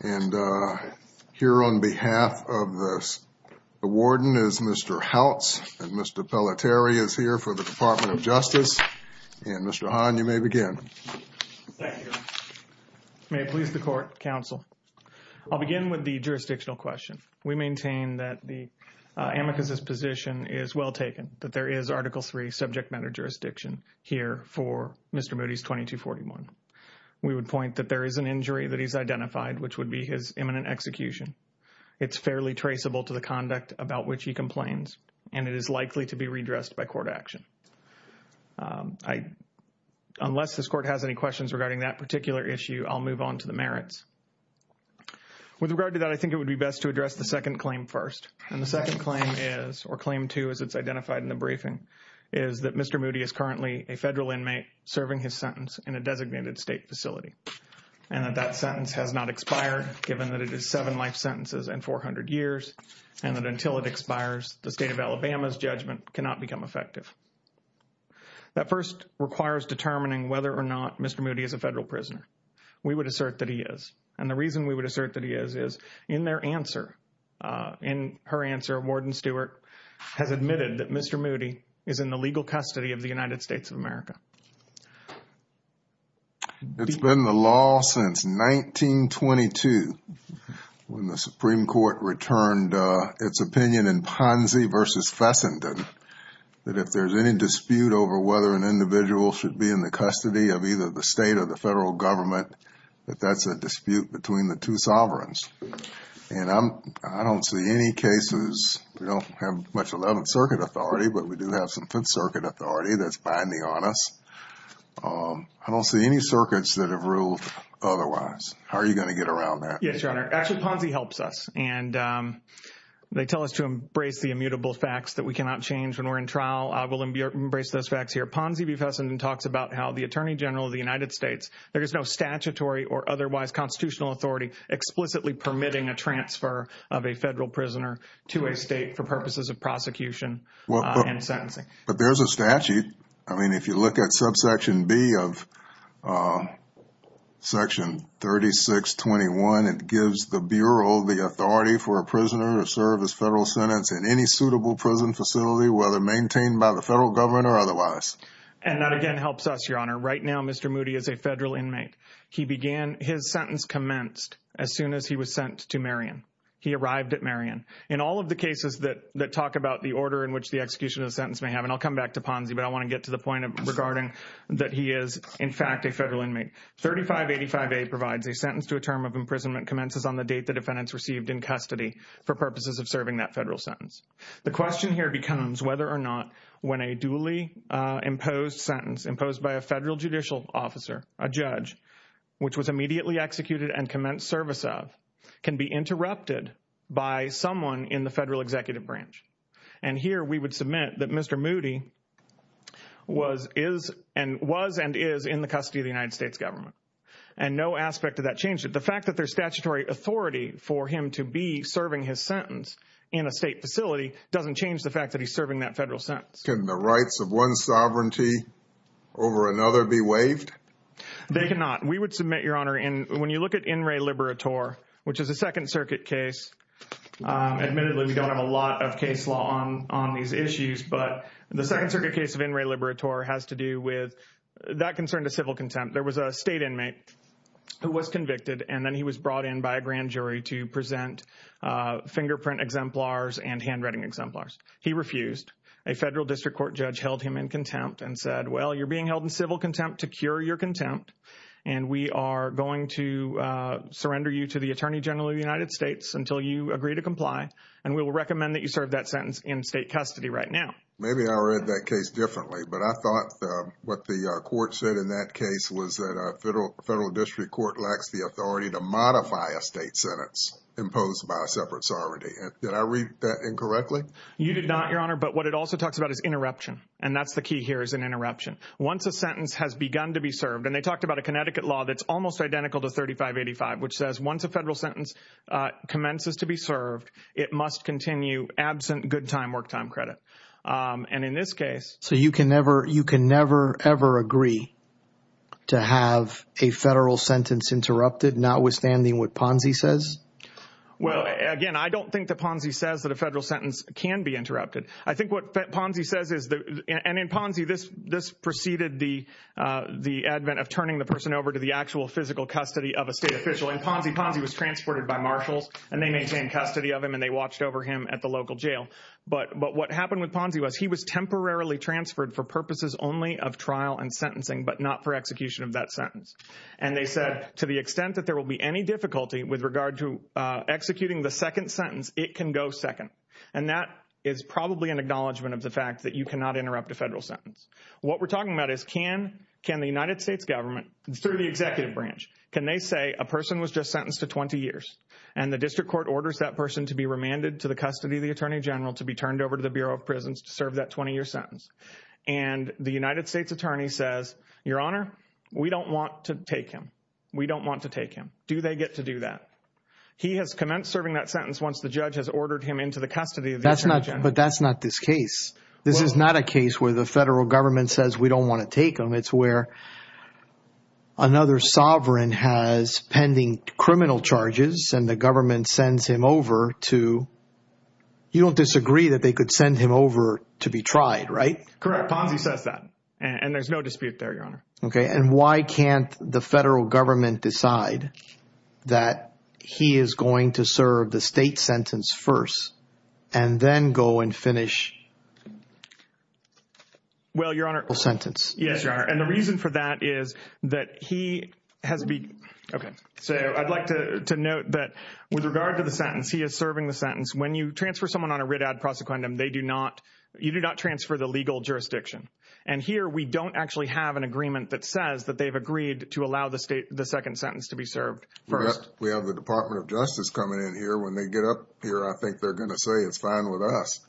And here on behalf of the warden is Mr. Houts, and Mr. Pelletieri is here for the Department of Justice, and Mr. Hahn, you may begin. Thank you. May it please the court, counsel. I'll begin with the jurisdictional question. We maintain that the amethyst's position is well taken, that there is Article III subject matter jurisdiction here for Mr. Moody's 2241. We would point that there is an injury that he's identified, which would be his imminent execution. It's fairly traceable to the conduct about which he complains, and it is likely to be redressed by court action. Unless this court has any questions regarding that particular issue, I'll move on to the merits. With regard to that, I think it would be best to address the second claim first. And the second claim is, or claim two as it's identified in the briefing, is that Mr. Moody is currently a federal inmate serving his sentence in a designated state facility. And that that sentence has not expired, given that it is seven life sentences and 400 years, and that until it expires, the state of Alabama's judgment cannot become effective. That first requires determining whether or not Mr. Moody is a federal prisoner. We would assert that he is. And the reason we would assert that he is, is in their answer, in her answer, Warden Stewart has admitted that Mr. Moody is in the legal custody of the United States of America. It's been the law since 1922, when the Supreme Court returned its opinion in Ponzi versus Fessenden, that if there's any dispute over whether an individual should be in the custody of either the state or the federal government, that that's a dispute between the two sovereigns. And I don't see any cases, we don't have much of that on circuit authority, but we do have some circuit authority that's binding on us. I don't see any circuits that have ruled otherwise. How are you going to get around that? Yes, Your Honor. Actually, Ponzi helps us. And they tell us to embrace the immutable facts that we cannot change when we're in trial. I will embrace those facts here. Ponzi v. Fessenden talks about how the Attorney General of the United States, there is no statutory or otherwise constitutional authority explicitly permitting a transfer of a federal prisoner to a state for purposes of prosecution and sentencing. But there's a statute. I mean, if you look at subsection B of section 3621, it gives the Bureau the authority for a prisoner to serve as federal sentence in any suitable prison facility, whether maintained by the federal government or otherwise. And that again helps us, Your Honor. Right now, Mr. Moody is a federal inmate. He began his sentence commenced as soon as he was sentenced to Marion. He arrived at Marion. In all of the cases that talk about the order in which the execution of the sentence may have, and I'll come back to Ponzi, but I want to get to the point regarding that he is, in fact, a federal inmate. 3585A provides a sentence to a term of imprisonment commences on the date the defendant's received in custody for purposes of serving that federal sentence. The question here becomes whether or not when a duly imposed sentence imposed by a federal judicial officer, a judge, which was immediately executed and commenced service of, can be interrupted by someone in the federal executive branch. And here we would submit that Mr. Moody was and is in the custody of the United States government. And no aspect of that changes. The fact that there's statutory authority for him to be serving his sentence in a state facility doesn't change the fact that he's serving that federal sentence. Can the rights of one sovereignty over another be waived? They cannot. We would submit, Your Honor, when you look at In Re Libera Tor, which is a Second Circuit case, admittedly we've got a lot of case law on these issues, but the Second Circuit case of In Re Libera Tor has to do with that concern to civil contempt. There was a state inmate who was convicted, and then he was brought in by a grand jury to present fingerprint exemplars and handwriting exemplars. He refused. A federal district court judge held him in contempt and said, well, you're being held in civil contempt to cure your contempt, and we are going to surrender you to the Attorney General of the United States until you agree to comply, and we will recommend that you serve that sentence in state custody right now. Maybe I read that case differently, but I thought what the court said in that case was that a federal district court lacks the authority to modify a state sentence imposed by a separate sovereignty. Did I read that incorrectly? You did not, Your Honor, but what it also talks about is interruption, and that's the key here is an interruption. Once a sentence has begun to be served, and they talked about a Connecticut law that's almost identical to 3585, which says once a federal sentence commences to be served, it must continue absent good time, work time credit, and in this case. So you can never ever agree to have a federal sentence interrupted notwithstanding what Ponzi says? Well, again, I don't think that Ponzi says that a federal sentence can be interrupted. I think what Ponzi says is, and in Ponzi, this preceded the advent of turning the person over to the actual physical custody of a state official, and Ponzi was transported by marshals, and they maintained custody of him, and they watched over him at the local jail, but what happened with Ponzi was he was temporarily transferred for purposes only of trial and sentencing but not for execution of that sentence, and they said to the extent that there will be any difficulty with regard to executing the second sentence, it can go second, and that is probably an acknowledgment of the fact that you cannot interrupt a federal sentence. What we're talking about is can the United States government through the executive branch, can they say a person was just sentenced to 20 years, and the district court orders that person to be remanded to the custody of the attorney general to be turned over to the Bureau of Prisons to serve that 20-year sentence, and the United States attorney says, Your Honor, we don't want to take him. We don't want to take him. Do they get to do that? He has commenced serving that sentence once the judge has ordered him into the custody of the attorney general. But that's not this case. This is not a case where the federal government says we don't want to take him. It's where another sovereign has pending criminal charges, and the government sends him over to – you don't disagree that they could send him over to be tried, right? Correct. Ponzi says that, and there's no dispute there, Your Honor. Okay. And why can't the federal government decide that he is going to serve the state sentence first and then go and finish? Well, Your Honor – The sentence. Yes, Your Honor. And the reason for that is that he has been – okay. So I'd like to note that with regard to the sentence, he is serving the sentence. When you transfer someone on a writ ad prosequendum, they do not – you do not transfer the legal jurisdiction. And here we don't actually have an agreement that says that they've agreed to allow the second sentence to be served first. We have the Department of Justice coming in here. When they get up here, I think they're going to say it's fine with us.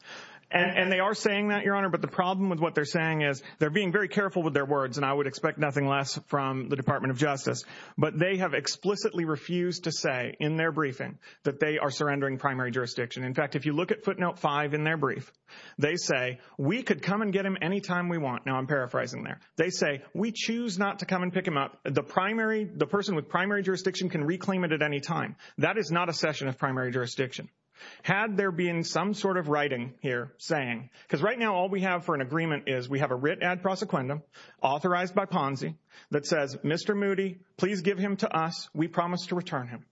And they are saying that, Your Honor. But the problem with what they're saying is they're being very careful with their words, and I would expect nothing less from the Department of Justice. But they have explicitly refused to say in their briefing that they are surrendering primary jurisdiction. In fact, if you look at footnote 5 in their brief, they say, we could come and get him anytime we want. Now, I'm paraphrasing there. They say, we choose not to come and pick him up. The primary – the person with primary jurisdiction can reclaim it at any time. That is not a session of primary jurisdiction. Had there been some sort of writing here saying – because right now all we have for an agreement is we have a writ ad prosequendum authorized by Ponzi that says, Mr. Moody, please give him to us. We promise to return him.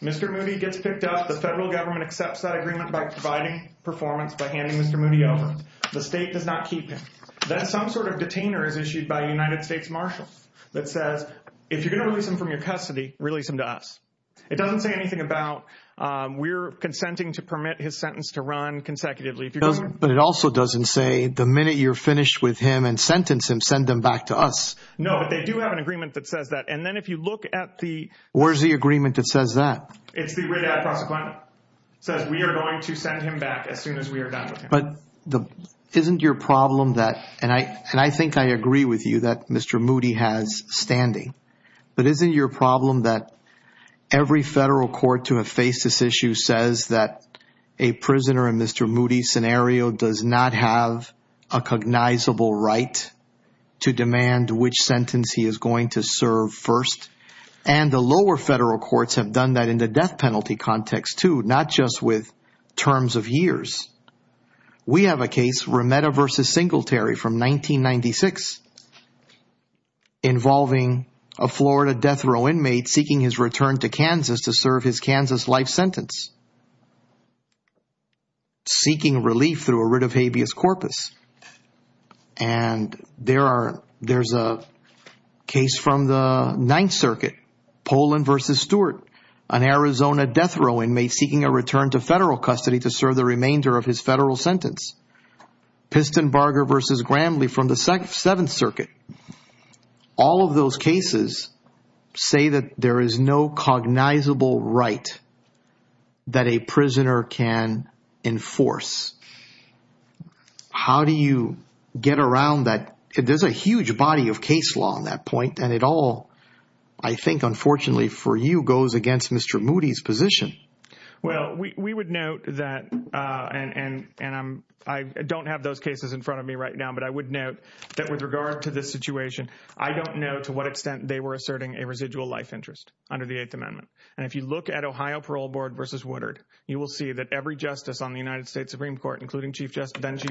Mr. Moody gets picked up. The federal government accepts that agreement by providing performance by handing Mr. Moody over. The state does not keep him. Then some sort of detainer is issued by a United States marshal that says, if you're going to release him from your custody, release him to us. It doesn't say anything about we're consenting to permit his sentence to run consecutively. But it also doesn't say the minute you're finished with him and sentence him, send him back to us. No, but they do have an agreement that says that. And then if you look at the – Where's the agreement that says that? It's the writ ad prosequendum. It says we are going to send him back as soon as we are done with him. But isn't your problem that – and I think I agree with you that Mr. Moody has standing. But isn't your problem that every federal court to have faced this issue says that a prisoner in Mr. Moody's scenario does not have a cognizable right to demand which sentence he is going to serve first? And the lower federal courts have done that in the death penalty context, too, not just with terms of years. We have a case, Remeda v. Singletary from 1996, involving a Florida death row inmate seeking his return to Kansas to serve his Kansas life sentence, seeking relief through a writ of habeas corpus. And there's a case from the Ninth Circuit, Poland v. Stewart, an Arizona death row inmate seeking a return to federal custody to serve the remainder of his federal sentence. Pistenbarger v. Grandley from the Seventh Circuit. All of those cases say that there is no cognizable right that a prisoner can enforce. How do you get around that? There's a huge body of case law on that point, and it all, I think, unfortunately for you, goes against Mr. Moody's position. Well, we would note that – and I don't have those cases in front of me right now, but I would note that with regard to this situation, I don't know to what extent they were asserting a residual life interest under the Eighth Amendment. And if you look at Ohio Parole Board v. Woodard, you will see that every justice on the United States Supreme Court, including then-Chief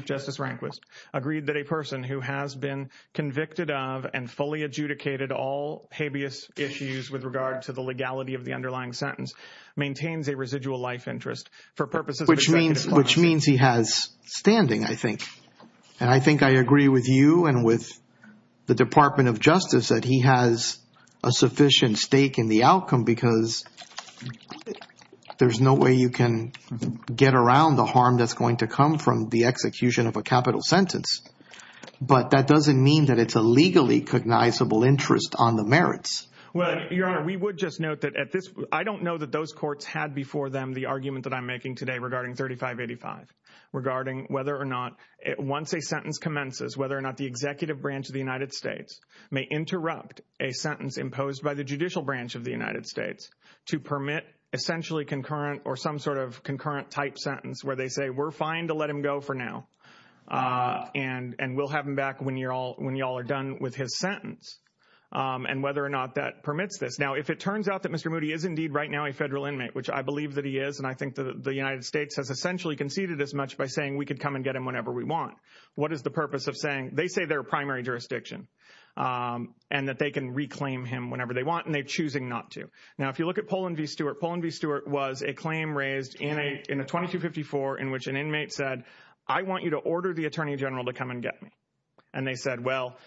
Justice Rehnquist, agreed that a person who has been convicted of and fully adjudicated all habeas issues with regard to the legality of the underlying sentence maintains a residual life interest. Which means he has standing, I think. And I think I agree with you and with the Department of Justice that he has a sufficient stake in the outcome because there's no way you can get around the harm that's going to come from the execution of a capital sentence. But that doesn't mean that it's a legally cognizable interest on the merits. Well, Your Honor, we would just note that at this – I don't know that those courts had before them the argument that I'm making today regarding 3585, regarding whether or not – once a sentence commences, whether or not the executive branch of the United States may interrupt a sentence imposed by the judicial branch of the United States to permit essentially concurrent or some sort of concurrent-type sentence where they say, we're fine to let him go for now and we'll have him back when you all are done with his sentence. And whether or not that permits this. Now, if it turns out that Mr. Moody is indeed right now a federal inmate, which I believe that he is, and I think that the United States has essentially conceded as much by saying we can come and get him whenever we want, what is the purpose of saying they say they're a primary jurisdiction and that they can reclaim him whenever they want and they're choosing not to? Now, if you look at Poland v. Stewart, Poland v. Stewart was a claim raised in a 2254 in which an inmate said, I want you to order the Attorney General to come and get me. And they said, well,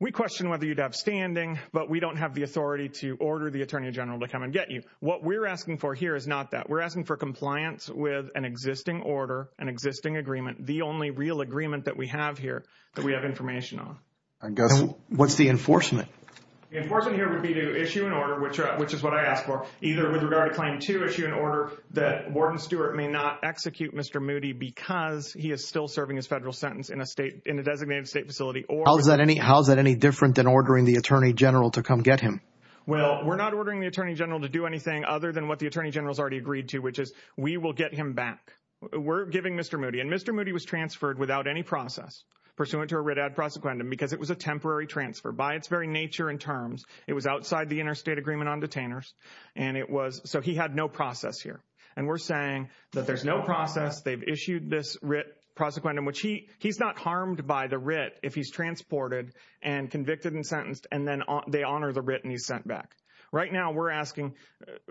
we question whether you'd have standing, but we don't have the authority to order the Attorney General to come and get you. What we're asking for here is not that. We're asking for compliance with an existing order, an existing agreement, the only real agreement that we have here that we have information on. What's the enforcement? The enforcement here would be to issue an order, which is what I asked for, to issue an order that Warren Stewart may not execute Mr. Moody because he is still serving a federal sentence in a state in a designated state facility. How is that any different than ordering the Attorney General to come get him? Well, we're not ordering the Attorney General to do anything other than what the Attorney General has already agreed to, which is we will get him back. We're giving Mr. Moody and Mr. Moody was transferred without any process pursuant to a writ ad prosequendum because it was a temporary transfer by its very nature and terms. It was outside the interstate agreement on detainers, so he had no process here. We're saying that there's no process. They've issued this writ prosequendum, which he's not harmed by the writ if he's transported and convicted and sentenced, and then they honor the writ and he's sent back. Right now, we're asking,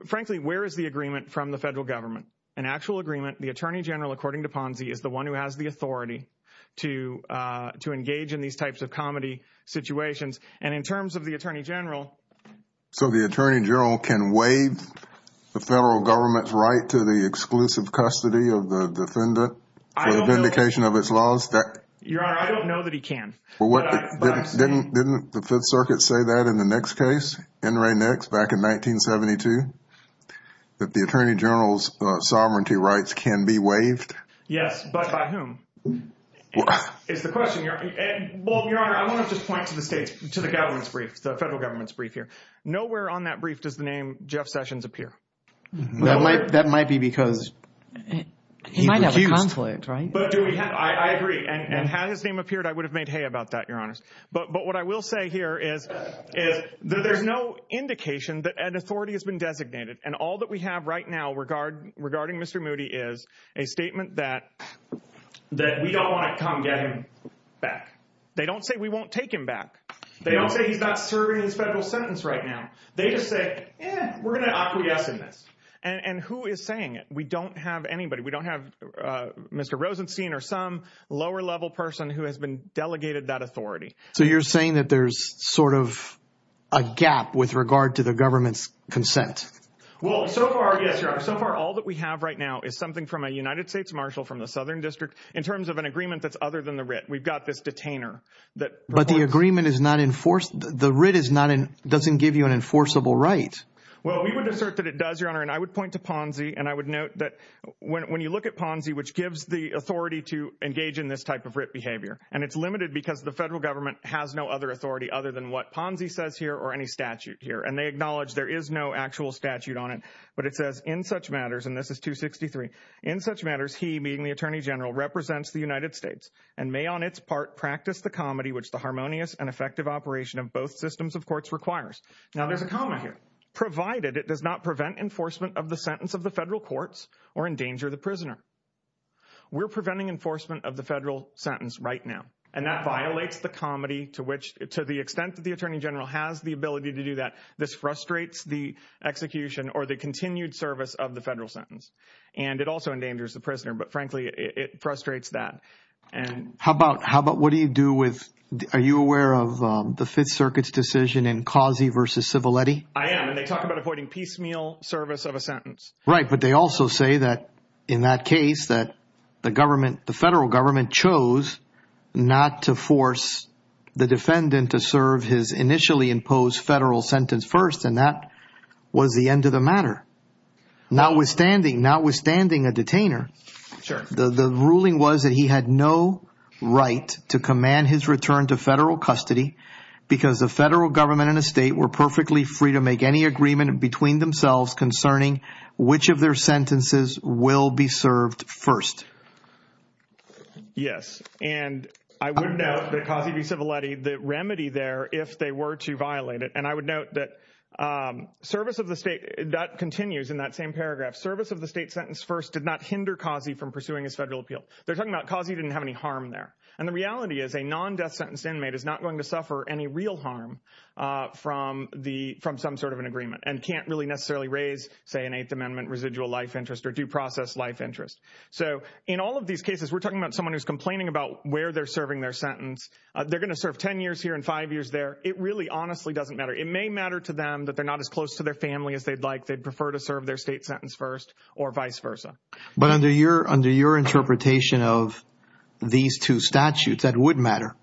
frankly, where is the agreement from the federal government? An actual agreement, the Attorney General, according to Ponzi, is the one who has the authority to engage in these types of comedy situations. And in terms of the Attorney General. So, the Attorney General can waive the federal government's right to the exclusive custody of the defendant for vindication of its laws? Your Honor, I don't know that he can. Didn't the Fourth Circuit say that in the Nix case, N. Ray Nix, back in 1972, that the Attorney General's sovereignty rights can be waived? Yes, but by whom? It's a question here. Well, Your Honor, I want to just point to the case, to the government's brief, the federal government's brief here. Nowhere on that brief does the name Jeff Sessions appear. That might be because he's accused. He might have a conflict, right? I agree. And had his name appeared, I would have made hay about that, Your Honor. But what I will say here is that there's no indication that an authority has been designated. And all that we have right now regarding Mr. Moody is a statement that we don't want to come get him back. They don't say we won't take him back. They don't say he's not serving his federal sentence right now. They just say, eh, we're going to acquiesce in this. And who is saying it? We don't have anybody. We don't have Mr. Rosenstein or some lower-level person who has been delegated that authority. So you're saying that there's sort of a gap with regard to the government's consent? Well, so far, yes. So far, all that we have right now is something from a United States marshal from the Southern District in terms of an agreement that's other than the writ. We've got this detainer. But the agreement is not enforced. The writ doesn't give you an enforceable right. Well, we would assert that it does, Your Honor. And I would point to Ponzi, and I would note that when you look at Ponzi, which gives the authority to engage in this type of writ behavior, and it's limited because the federal government has no other authority other than what Ponzi says here or any statute here, and they acknowledge there is no actual statute on it. But it says, in such matters, and this is 263, in such matters, he, meaning the Attorney General, represents the United States and may on its part practice the comedy which the harmonious and effective operation of both systems of courts requires. Now, there's a comment here. Provided it does not prevent enforcement of the sentence of the federal courts or endanger the prisoner. We're preventing enforcement of the federal sentence right now, and that violates the comedy to which to the extent that the Attorney General has the ability to do that, this frustrates the execution or the continued service of the federal sentence. And it also endangers the prisoner, but, frankly, it frustrates that. How about, what do you do with, are you aware of the Fifth Circuit's decision in Causey v. Civiletti? I am, and they talk about avoiding piecemeal service of a sentence. Right, but they also say that in that case that the government, the federal government, chose not to force the defendant to serve his initially imposed federal sentence first, and that was the end of the matter, notwithstanding a detainer. Sure. The ruling was that he had no right to command his return to federal custody because the federal government and the state were perfectly free to make any agreement between themselves concerning which of their sentences will be served first. Yes, and I would note that Causey v. Civiletti, the remedy there, if they were to violate it, and I would note that service of the state, that continues in that same paragraph, service of the state sentence first did not hinder Causey from pursuing a federal appeal. They're talking about Causey didn't have any harm there. And the reality is a non-death sentence inmate is not going to suffer any real harm from some sort of an agreement and can't really necessarily raise, say, an Eighth Amendment residual life interest or due process life interest. So in all of these cases, we're talking about someone who's complaining about where they're serving their sentence. They're going to serve ten years here and five years there. It really honestly doesn't matter. It may matter to them that they're not as close to their family as they'd like. But under your interpretation of these two statutes, that would matter.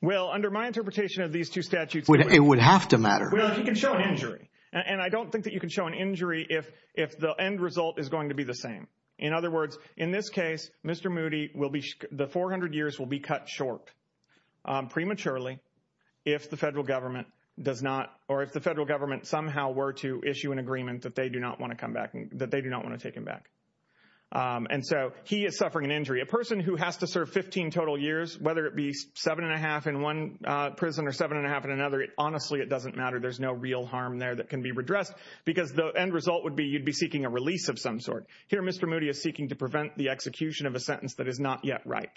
Well, under my interpretation of these two statutes, it would have to matter. Well, you can show an injury. And I don't think that you can show an injury if the end result is going to be the same. In other words, in this case, Mr. Moody, the 400 years will be cut short prematurely if the federal government somehow were to issue an agreement that they do not want to take him back. And so he is suffering an injury. A person who has to serve 15 total years, whether it be seven and a half in one prison or seven and a half in another, honestly it doesn't matter. There's no real harm there that can be redressed because the end result would be you'd be seeking a release of some sort. Here Mr. Moody is seeking to prevent the execution of a sentence that is not yet right.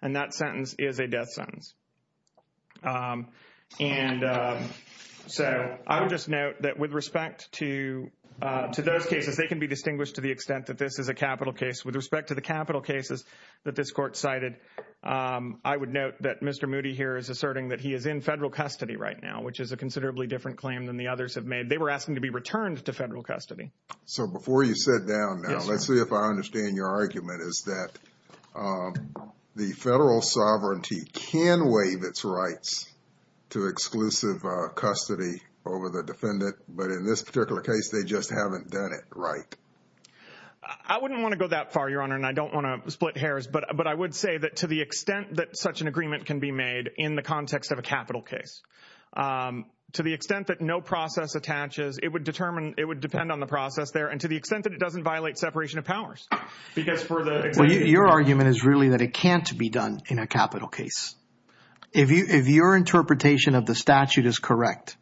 And that sentence is a death sentence. And so I would just note that with respect to those cases, they can be distinguished to the extent that this is a capital case. With respect to the capital cases that this court cited, I would note that Mr. Moody here is asserting that he is in federal custody right now, which is a considerably different claim than the others have made. They were asking to be returned to federal custody. So before you sit down now, let's see if I understand your argument, is that the federal sovereignty can waive its rights to exclusive custody over the defendant, but in this particular case they just haven't done it right. I wouldn't want to go that far, Your Honor, and I don't want to split hairs, but I would say that to the extent that such an agreement can be made in the context of a capital case, to the extent that no process attaches, it would depend on the process there, and to the extent that it doesn't violate separation of powers. Your argument is really that it can't be done in a capital case. If your interpretation of the statute is correct,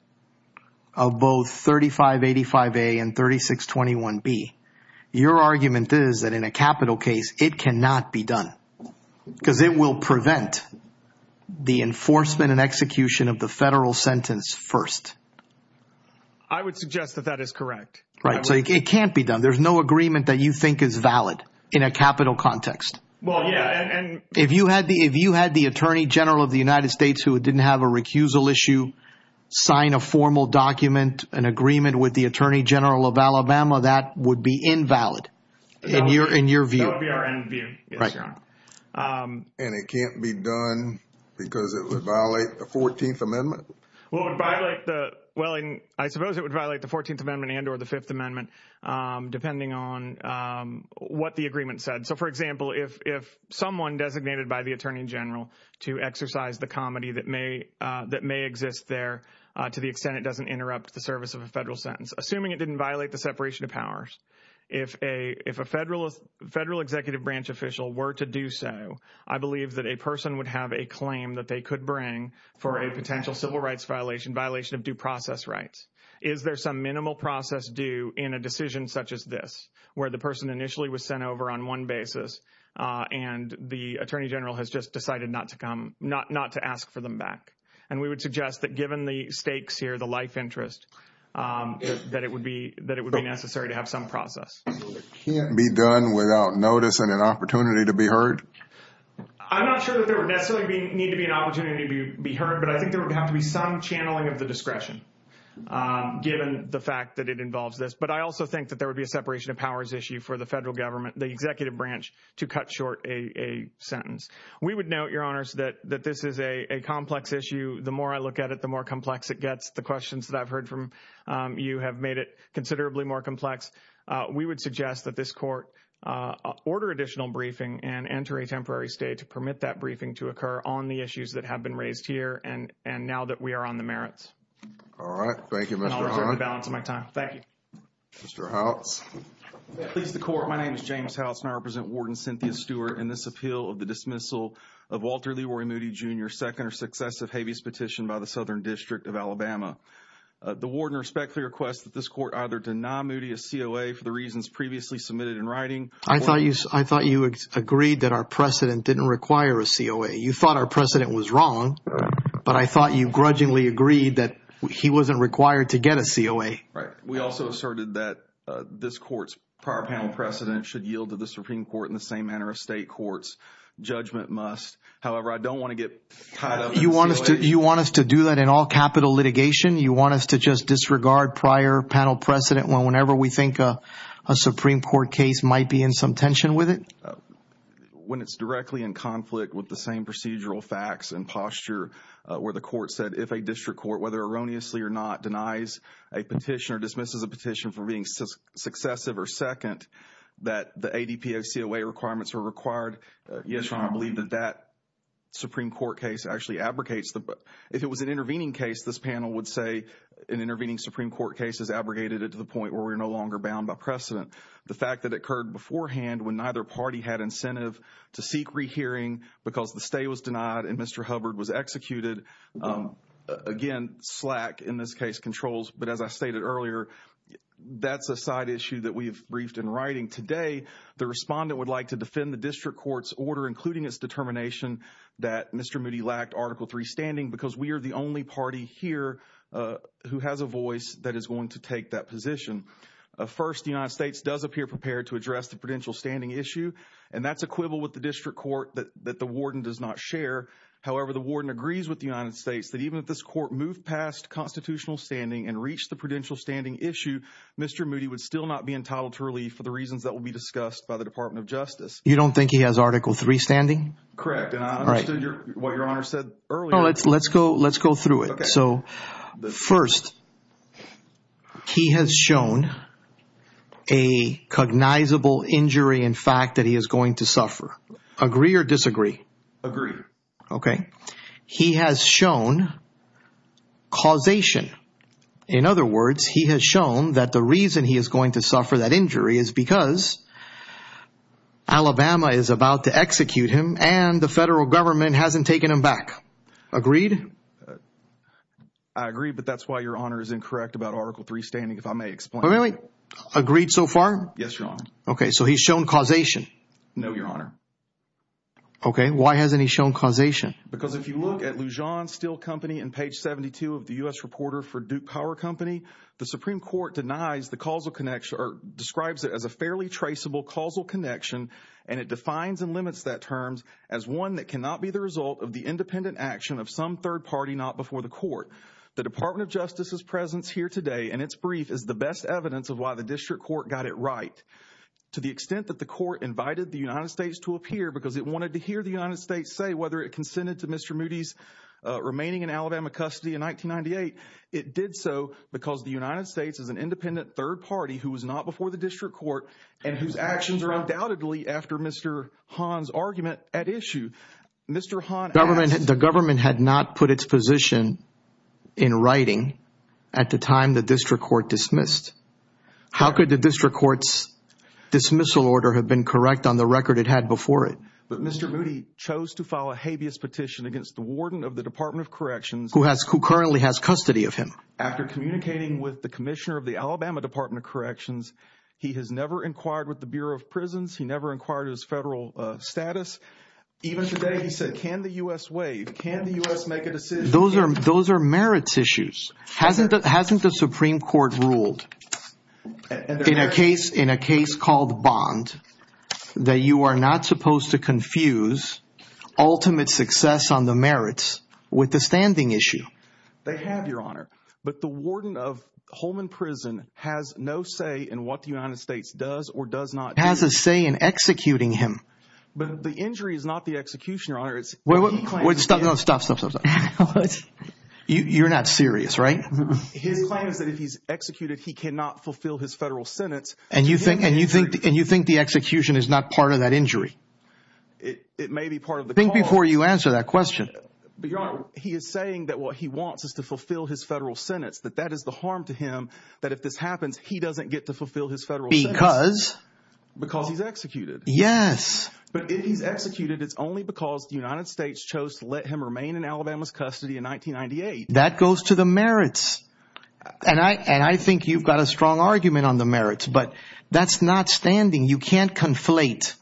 of both 3585A and 3621B, your argument is that in a capital case it cannot be done, because it will prevent the enforcement and execution of the federal sentence first. I would suggest that that is correct. Right, so it can't be done. There's no agreement that you think is valid in a capital context. If you had the Attorney General of the United States who didn't have a recusal issue sign a formal document, an agreement with the Attorney General of Alabama, that would be invalid in your view. And it can't be done because it would violate the 14th Amendment? Well, I suppose it would violate the 14th Amendment and or the Fifth Amendment, depending on what the agreement said. So, for example, if someone designated by the Attorney General to exercise the comity that may exist there, to the extent it doesn't interrupt the service of a federal sentence, assuming it didn't violate the separation of powers, if a federal executive branch official were to do so, I believe that a person would have a claim that they could bring for a potential civil rights violation, violation of due process rights. Is there some minimal process due in a decision such as this, where the person initially was sent over on one basis and the Attorney General has just decided not to come, not to ask for them back? And we would suggest that given the stakes here, the life interests, that it would be necessary to have some process. It can't be done without notice and an opportunity to be heard? I'm not sure that there would necessarily need to be an opportunity to be heard, but I think there would have to be some channeling of the discretion, given the fact that it involves this. But I also think that there would be a separation of powers issue for the federal government, the executive branch, to cut short a sentence. We would note, Your Honors, that this is a complex issue. The more I look at it, the more complex it gets. The questions that I've heard from you have made it considerably more complex. We would suggest that this court order additional briefing and enter a temporary stay to permit that briefing to occur on the issues that have been raised here and now that we are on the merits. All right. Thank you, Mr. Hines. I apologize for the balance of my time. Thank you. Mr. House. Please, the Court. My name is James House and I represent Warden Cynthia Stewart in this appeal of the dismissal of Walter Leroy Moody, Jr., second or successive habeas petition by the Southern District of Alabama. The warden respectfully requests that this court either deny Moody a COA for the reasons previously submitted in writing or I thought you agreed that our precedent didn't require a COA. You thought our precedent was wrong, but I thought you grudgingly agreed that he wasn't required to get a COA. Right. We also asserted that this court's prior panel precedent should yield to the Supreme Court in the same manner as state courts. Judgment must. However, I don't want to get caught up in To do that in all capital litigation, you want us to just disregard prior panel precedent whenever we think a Supreme Court case might be in some tension with it? When it's directly in conflict with the same procedural facts and posture where the court said if a district court, whether erroneously or not, denies a petition or dismisses a petition for being successive or second, that the ADPA COA requirements are required, yes, Your Honor, I believe that that Supreme Court case actually advocates the In an intervening case, this panel would say in intervening Supreme Court cases abrogated it to the point where we're no longer bound by precedent. The fact that it occurred beforehand when neither party had incentive to seek rehearing because the stay was denied and Mr. Hubbard was executed. Again, slack in this case controls. But as I stated earlier, that's a side issue that we've briefed in writing today. The respondent would like to defend the district court's order, including its determination that Mr. Moody lacked Article 3 standing because we are the only party here who has a voice that is going to take that position. First, the United States does appear prepared to address the prudential standing issue, and that's equivalent with the district court that the warden does not share. However, the warden agrees with the United States that even if this court moved past constitutional standing and reached the prudential standing issue, Mr. Moody would still not be entitled to relief for the reasons that will be discussed by the Department of Justice. You don't think he has Article 3 standing? Correct, and I understood what Your Honor said earlier. Let's go through it. First, he has shown a cognizable injury in fact that he is going to suffer. Agree or disagree? Agree. Okay. He has shown causation. because Alabama is about to execute him and the federal government hasn't taken him back. Agreed? I agree, but that's why Your Honor is incorrect about Article 3 standing, if I may explain. Really? Agreed so far? Yes, Your Honor. Okay, so he's shown causation. No, Your Honor. Okay, why hasn't he shown causation? Because if you look at Lujan Steel Company in page 72 of the U.S. Reporter for Duke Power Company, the Supreme Court denies the causal connection or describes it as a fairly traceable causal connection and it defines and limits that term as one that cannot be the result of the independent action of some third party not before the court. The Department of Justice's presence here today in its brief is the best evidence of why the district court got it right. To the extent that the court invited the United States to appear because it wanted to hear the United States say whether it consented to Mr. Moody's remaining in Alabama custody in 1998, it did so because the United States is an independent third party who was not before the district court and whose actions are undoubtedly after Mr. Hahn's argument at issue. The government had not put its position in writing at the time the district court dismissed. How could the district court's dismissal order have been correct on the record it had before it? Mr. Moody chose to file a habeas petition against the warden of the Department of Corrections who currently has custody of him. After communicating with the commissioner of the Alabama Department of Corrections, he has never inquired with the Bureau of Prisons. He never inquired his federal status. Even today he said, can the U.S. waive? Can the U.S. make a decision? Those are merits issues. Hasn't the Supreme Court ruled in a case called Bond that you are not supposed to confuse ultimate success on the merits with the standing issue? They have, Your Honor. But the warden of Holman Prison has no say in what the United States does or does not do. He has a say in executing him. But the injury is not the execution, Your Honor. Stop, stop, stop. You're not serious, right? His claim is that if he's executed, he cannot fulfill his federal sentence. And you think the execution is not part of that injury? It may be part of the cause. Think before you answer that question. Your Honor, he is saying that what he wants is to fulfill his federal sentence, but that is the harm to him that if this happens, he doesn't get to fulfill his federal sentence. Because? Because he's executed. Yes. But if he's executed, it's only because the United States chose to let him remain in Alabama's custody in 1998. That goes to the merits. And I think you've got a strong argument on the merits. But that's not standing. You can't conflate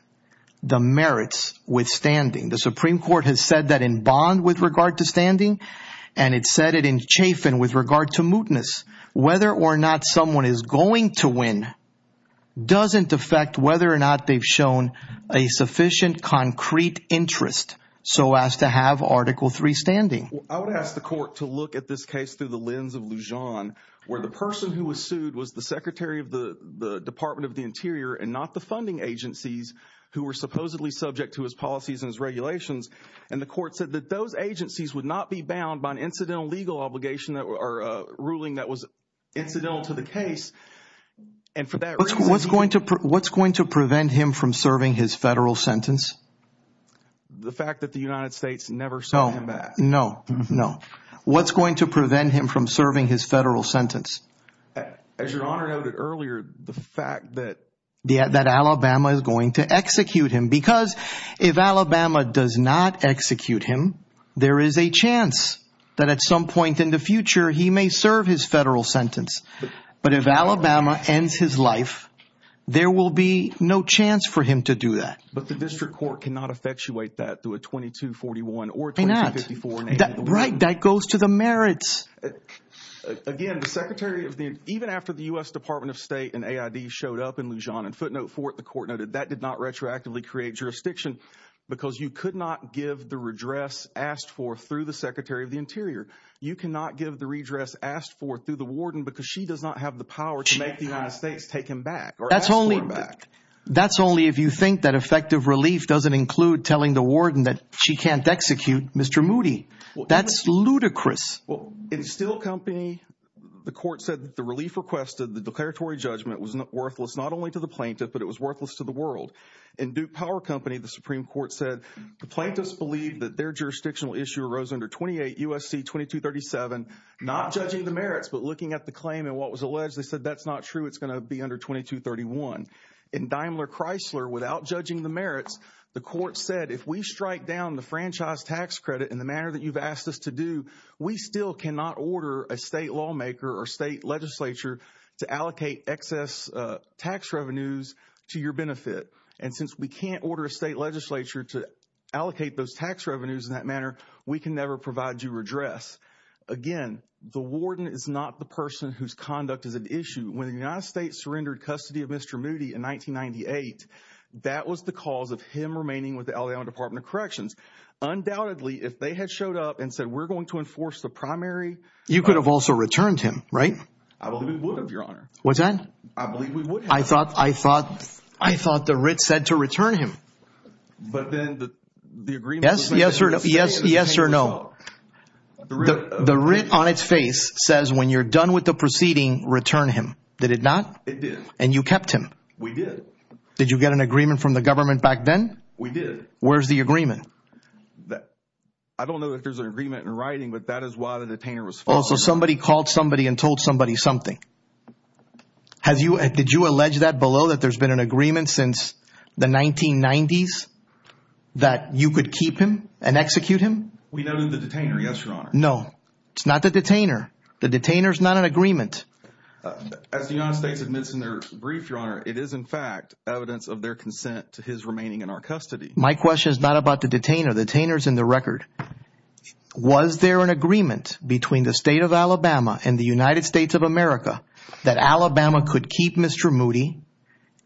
the merits with standing. The Supreme Court has said that in Bond with regard to standing, and it said it in Chafin with regard to mootness. Whether or not someone is going to win doesn't affect whether or not they've shown a sufficient concrete interest, so as to have Article III standing. I would ask the court to look at this case through the lens of Lujan, where the person who was sued was the Secretary of the Department of the Interior and not the funding agencies who were supposedly subject to his policies and his regulations. And the court said that those agencies would not be bound by an incidental legal obligation or a ruling that was infidel to the case. And for that reason... What's going to prevent him from serving his federal sentence? The fact that the United States never sent him back. No, no, no. What's going to prevent him from serving his federal sentence? As Your Honor noted earlier, the fact that... That Alabama is going to execute him. Because if Alabama does not execute him, there is a chance that at some point in the future, he may serve his federal sentence. But if Alabama ends his life, there will be no chance for him to do that. But the district court cannot effectuate that with 2241 or 2254. Right, that goes to the merits. Again, the Secretary of the... Even after the U.S. Department of State and AID showed up in Lujan and footnote for it, the court noted that did not retroactively create jurisdiction because you could not give the redress asked for through the Secretary of the Interior. You cannot give the redress asked for through the warden because she does not have the power to make the United States take him back or ask for him back. That's only if you think that effective relief doesn't include telling the warden that she can't execute Mr. Moody. That's ludicrous. Well, it is still company. The court said that the relief requested, the declaratory judgment was worthless, not only to the plaintiff, but it was worthless to the world. In Duke Power Company, the Supreme Court said the plaintiffs believed that their jurisdictional issue arose under 28 U.S.C. 2237, not judging the merits, but looking at the claim and what was alleged, they said that's not true, it's going to be under 2231. In Daimler Chrysler, without judging the merits, the court said, if we strike down the franchise tax credit in the manner that you've asked us to do, we still cannot order a state lawmaker or state legislature to allocate excess tax revenues to your benefit. And since we can't order a state legislature to allocate those tax revenues in that manner, we can never provide you redress. Again, the warden is not the person whose conduct is at issue. When the United States surrendered custody of Mr. Moody in 1998, that was the cause of him remaining with the Alabama Department of Corrections. Undoubtedly, if they had showed up and said we're going to enforce the primary You could have also returned him, right? I believe we would have, Your Honor. What's that? I believe we would have. I thought the writ said to return him. But then the agreement Yes or no. The writ on its face says when you're done with the proceeding, return him. Did it not? It did. And you kept him? We did. Did you get an agreement from the government back then? We did. Where's the agreement? I don't know that there's an agreement in writing, but that is why the detainer was forced to Also, somebody called somebody and told somebody something. Did you allege that below, that there's been an agreement since the 1990s, that you could keep him and execute him? We know the detainer, yes, Your Honor. No. It's not the detainer. The detainer's not an agreement. As the United States admits in their brief, Your Honor, it is in fact evidence of their consent to his remaining in our custody. My question is not about the detainer. The detainer's in the record. Was there an agreement between the state of Alabama and the United States of America that Alabama could keep Mr. Moody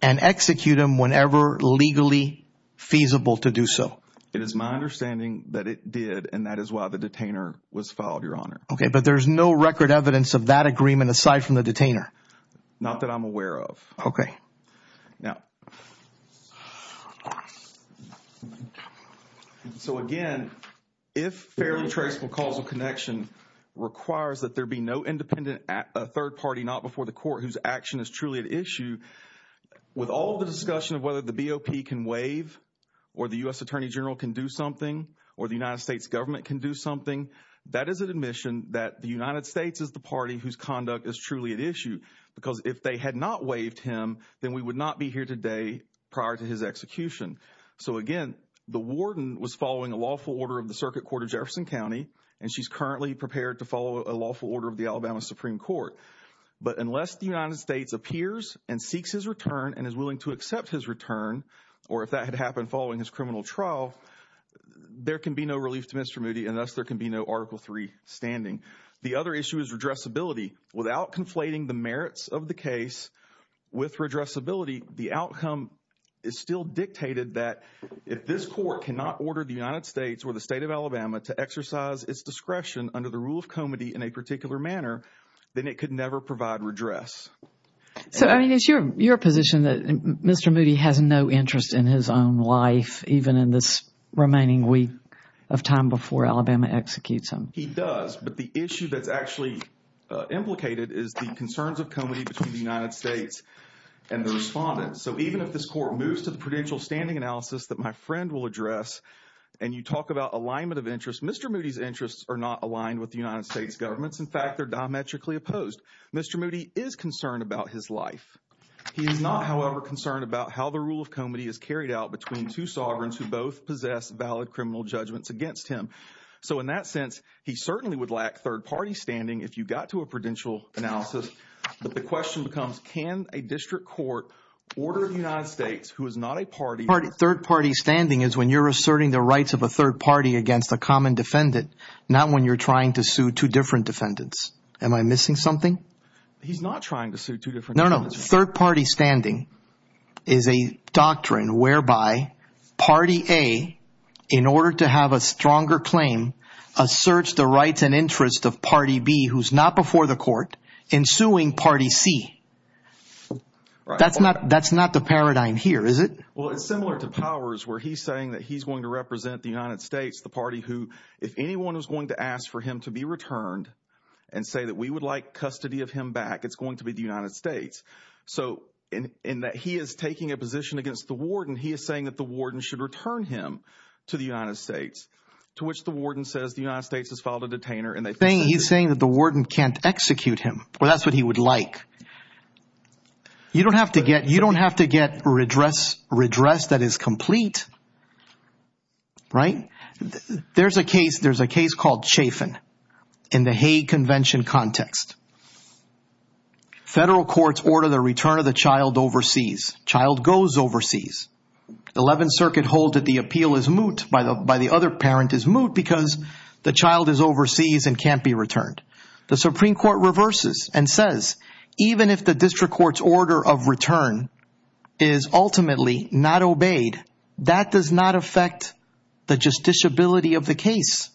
and execute him whenever legally feasible to do so? It is my understanding that it did, and that is why the detainer was filed, Your Honor. Okay. But there's no record evidence of that agreement aside from the detainer? Not that I'm aware of. Okay. Now, so, again, if fairly traceable causal connection requires that there be no independent third party not before the court whose action is truly at issue, with all the discussion of whether the BOP can waive or the U.S. Attorney General can do something or the United States government can do something, that is an admission that the United States is the party whose conduct is truly at issue because if they had not waived him, then we would not be here today prior to his execution. So, again, the warden was following a lawful order of the Circuit Court of Jefferson County, and she's currently prepared to follow a lawful order of the Alabama Supreme Court. But unless the United States appears and seeks his return and is willing to accept his return, or if that had happened following his criminal trial, there can be no relief to Mr. Moody, and thus there can be no Article III standing. The other issue is redressability. Without conflating the merits of the case with redressability, the outcome is still dictated that if this court cannot order the United States or the state of Alabama to exercise its discretion under the rule of comity in a particular manner, then it could never provide redress. So, I mean, it's your position that Mr. Moody has no interest in his own life, even in this remaining week of time before Alabama executes him. He does, but the issue that's actually implicated is the concerns of comity between the United States and the respondent. So even if this court moves to the prudential standing analysis that my friend will address and you talk about alignment of interest, Mr. Moody's interests are not aligned with the United States government. In fact, they're diametrically opposed. Mr. Moody is concerned about his life. He is not, however, concerned about how the rule of comity is carried out between two sovereigns who both possess valid criminal judgments against him. So in that sense, he certainly would lack third-party standing if you got to a prudential analysis. But the question becomes, can a district court order the United States, who is not a party Third-party standing is when you're asserting the rights of a third party against a common defendant, not when you're trying to sue two different defendants. Am I missing something? He's not trying to sue two different defendants. No, no. Third-party standing is a doctrine whereby party A, in order to have a stronger claim, asserts the rights and interests of party B, who's not before the court, in suing party C. That's not the paradigm here, is it? Well, it's similar to powers where he's saying that he's going to represent the United States, the party who, if anyone is going to ask for him to be returned and say that we would like custody of him back, it's going to be the United States. So in that he is taking a position against the warden, he is saying that the warden should return him to the United States, to which the warden says the United States has filed a detainer. He's saying that the warden can't execute him. Well, that's what he would like. You don't have to get redress that is complete, right? There's a case called Chafin in the Hague Convention context. Federal courts order the return of the child overseas. The child goes overseas. The Eleventh Circuit holds that the appeal is moot, by the other parent is moot, because the child is overseas and can't be returned. The Supreme Court reverses and says even if the district court's order of return is ultimately not obeyed, that does not affect the justiciability of the case.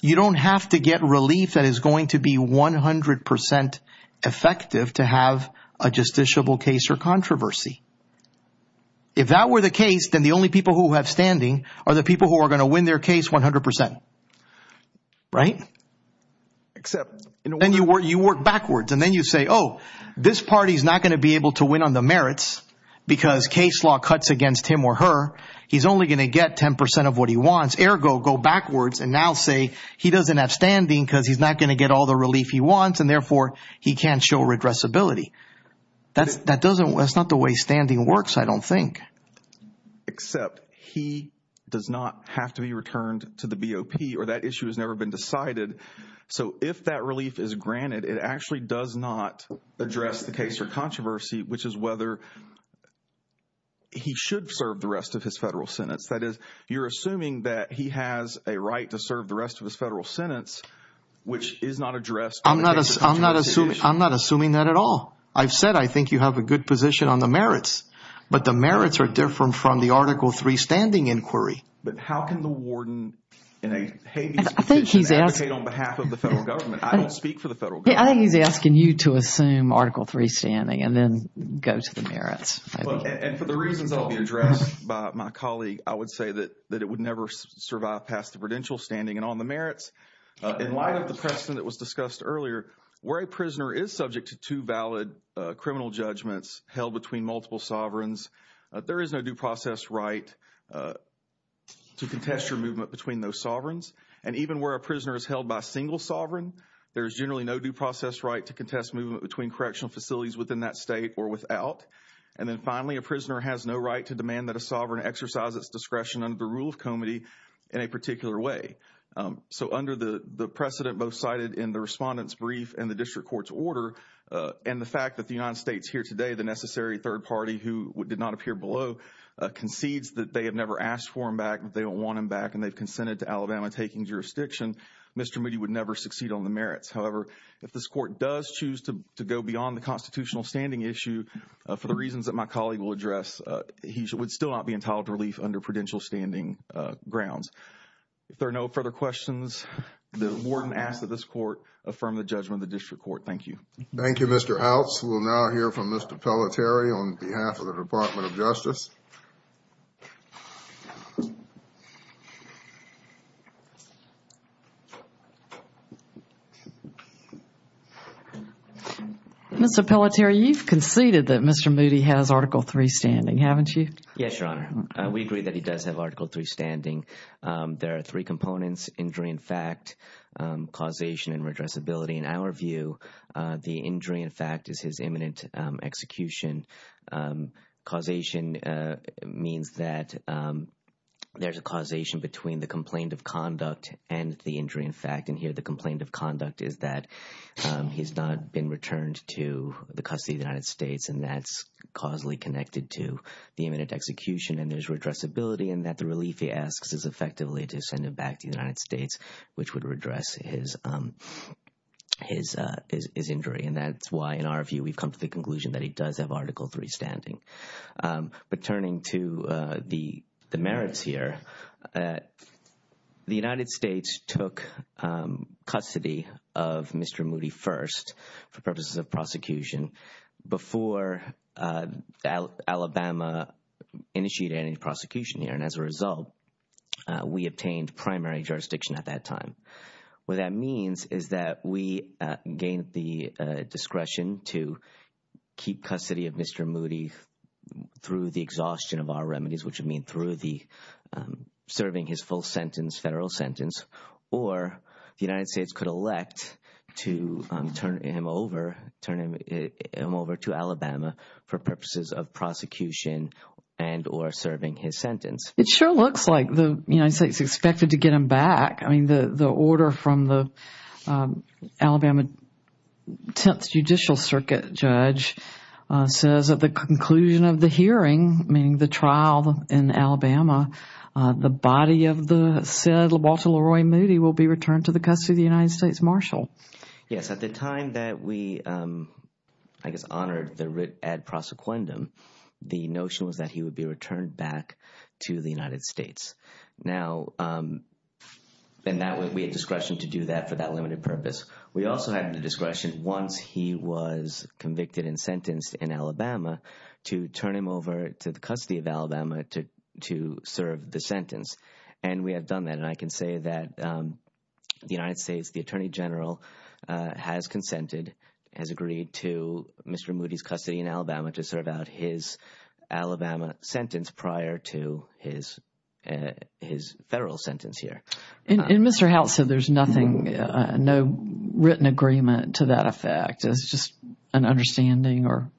You don't have to get relief that is going to be 100% effective to have a justiciable case or controversy. If that were the case, then the only people who have standing are the people who are going to win their case 100%, right? Then you work backwards, and then you say, oh, this party is not going to be able to win on the merits because case law cuts against him or her. He's only going to get 10% of what he wants. Ergo, go backwards and now say he doesn't have standing because he's not going to get all the relief he wants, and therefore he can't show regressibility. That's not the way standing works, I don't think. Except he does not have to be returned to the BOP, or that issue has never been decided. If that relief is granted, it actually does not address the case or controversy, which is whether he should serve the rest of his federal sentence. That is, you're assuming that he has a right to serve the rest of his federal sentence, which is not addressed. I'm not assuming that at all. I've said I think you have a good position on the merits, but the merits are different from the Article III standing inquiry. But how can the warden in a habeas position advocate on behalf of the federal government? I don't speak for the federal government. I think he's asking you to assume Article III standing and then go to the merits. And for the reasons that will be addressed by my colleague, I would say that it would never survive past the prudential standing. And on the merits, in light of the precedent that was discussed earlier, where a prisoner is subject to two valid criminal judgments held between multiple sovereigns, there is no due process right to contest your movement between those sovereigns. And even where a prisoner is held by a single sovereign, there is generally no due process right to contest movement between correctional facilities within that state or without. And then finally, a prisoner has no right to demand that a sovereign exercise its discretion under the Rules Committee in a particular way. So under the precedent both cited in the Respondent's Brief and the District Court's Order, and the fact that the United States here today, the necessary third party who did not appear below, concedes that they have never asked for him back, that they don't want him back, and they've consented to Alabama taking jurisdiction, Mr. Moody would never succeed on the merits. However, if this court does choose to go beyond the constitutional standing issue, for the reasons that my colleague will address, he would still not be entitled to relief under prudential standing grounds. If there are no further questions, the warden asks that this court affirm the judgment of the District Court. Thank you. Thank you, Mr. Outs. We'll now hear from Mr. Pelletier on behalf of the Department of Justice. Mr. Pelletier, you've conceded that Mr. Moody has Article III standing, haven't you? Yes, Your Honor. We agree that he does have Article III standing. There are three components, injury in fact, causation, and redressability. In our view, the injury in fact is his imminent execution. Causation means that there's a causation between the complaint of conduct and the injury in fact, and here the complaint of conduct is that he's not been returned to the custody of the United States, and that's causally connected to the imminent execution and his redressability, and that the relief he asks is effectively to send him back to the United States, which would redress his injury. And that's why, in our view, we've come to the conclusion that he does have Article III standing. Returning to the merits here, the United States took custody of Mr. Moody first for purposes of prosecution before Alabama initiated any prosecution here, and as a result, we obtained primary jurisdiction at that time. What that means is that we gained the discretion to keep custody of Mr. Moody through the exhaustion of our remedies, which would mean through the serving his full sentence, federal sentence, or the United States could elect to turn him over to Alabama for purposes of prosecution and or serving his sentence. It sure looks like the United States expected to get him back. I mean, the order from the Alabama Tenth Judicial Circuit judge says that the conclusion of the hearing, meaning the trial in Alabama, the body of the said LaRoy Moody will be returned to the custody of the United States Marshal. Yes, at the time that we, I guess, honored the writ ad prosequendum, the notion was that he would be returned back to the United States. Now, we had discretion to do that for that limited purpose. We also had the discretion once he was convicted and sentenced in Alabama to turn him over to the custody of Alabama to serve the sentence, and we had done that, and I can say that the United States, the Attorney General, has consented, has agreed to Mr. Moody's custody in Alabama to serve out his Alabama sentence prior to his federal sentence here. And Mr. Hout said there's nothing, no written agreement to that effect. It's just an understanding or?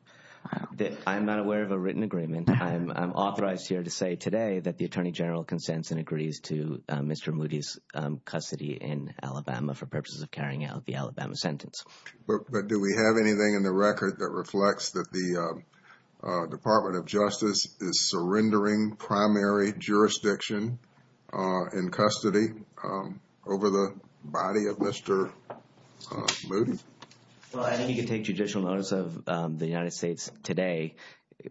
I'm not aware of a written agreement. I'm authorized here to say today that the Attorney General consents and agrees to Mr. Moody's custody in Alabama for purposes of carrying out the Alabama sentence. But do we have anything in the record that reflects that the Department of Justice is surrendering primary jurisdiction in custody over the body of Mr. Moody? Well, I think you can take judicial notice of the United States today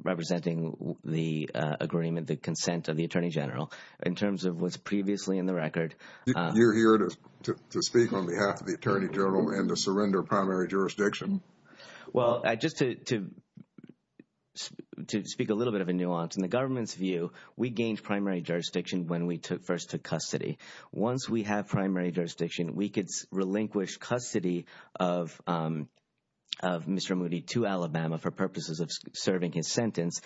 representing the agreement, the consent of the Attorney General in terms of what's previously in the record. You're here to speak on behalf of the Attorney General and to surrender primary jurisdiction? Well, just to speak a little bit of a nuance, in the government's view, we gained primary jurisdiction when we first took custody. Once we have primary jurisdiction, we could relinquish custody of Mr. Moody to Alabama for purposes of serving his sentence.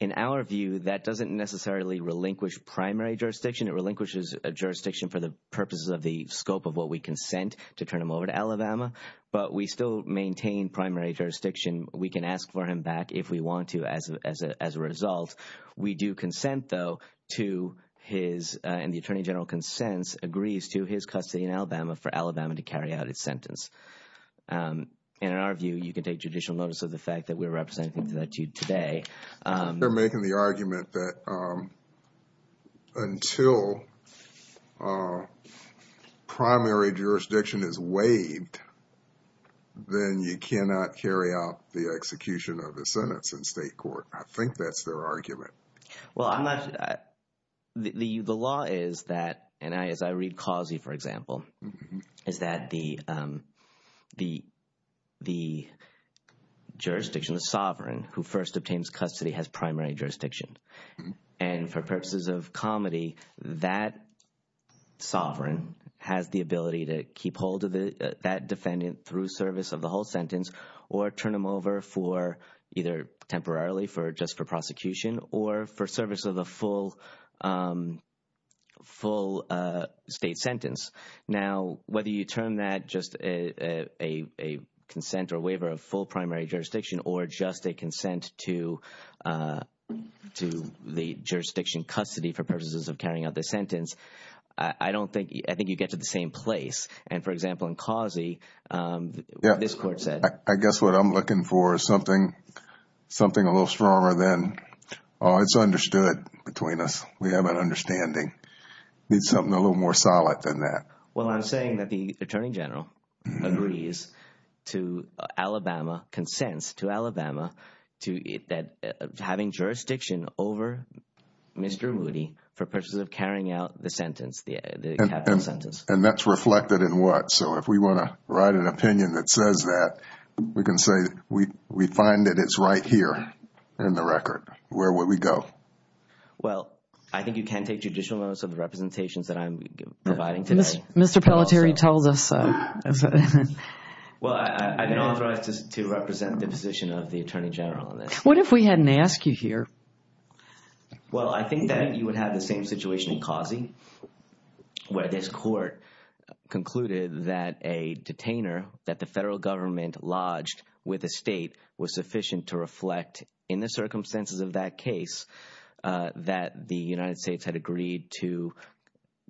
In our view, that doesn't necessarily relinquish primary jurisdiction. It relinquishes jurisdiction for the purposes of the scope of what we consent to turn him over to Alabama. But we still maintain primary jurisdiction. We can ask for him back if we want to as a result. We do consent, though, to his, and the Attorney General consents, agrees to his custody in Alabama for Alabama to carry out its sentence. And in our view, you can take judicial notice of the fact that we're representing that to you today. They're making the argument that until primary jurisdiction is waived, then you cannot carry out the execution of the sentence in state court. I think that's their argument. Well, I'm not – the law is that, and as I read Causey, for example, is that the jurisdiction of the sovereign who first obtains custody has primary jurisdiction. And for purposes of comedy, that sovereign has the ability to keep hold of that defendant through service of the whole sentence or turn him over for either temporarily for just for prosecution or for service of the full state sentence. Now, whether you turn that just a consent or waiver of full primary jurisdiction or just a consent to the jurisdiction custody for purposes of carrying out the sentence, I don't think – I think you get to the same place. And, for example, in Causey, this court said – I guess what I'm looking for is something a little stronger than, oh, it's understood between us. We have an understanding. We need something a little more solid than that. Well, I'm saying that the Attorney General agrees to Alabama – consents to Alabama to having jurisdiction over Mr. Moody for purposes of carrying out the sentence. And that's reflected in what? So if we want to write an opinion that says that, we can say we find that it's right here in the record. Where would we go? Well, I think you can take judicial notes of the representations that I'm providing today. Mr. Pelletier, you told us. Well, I don't want to represent the position of the Attorney General on this. What if we hadn't asked you here? Well, I think that you would have the same situation in Causey where this court concluded that a detainer that the federal government lodged with the state was sufficient to reflect in the circumstances of that case that the United States had agreed to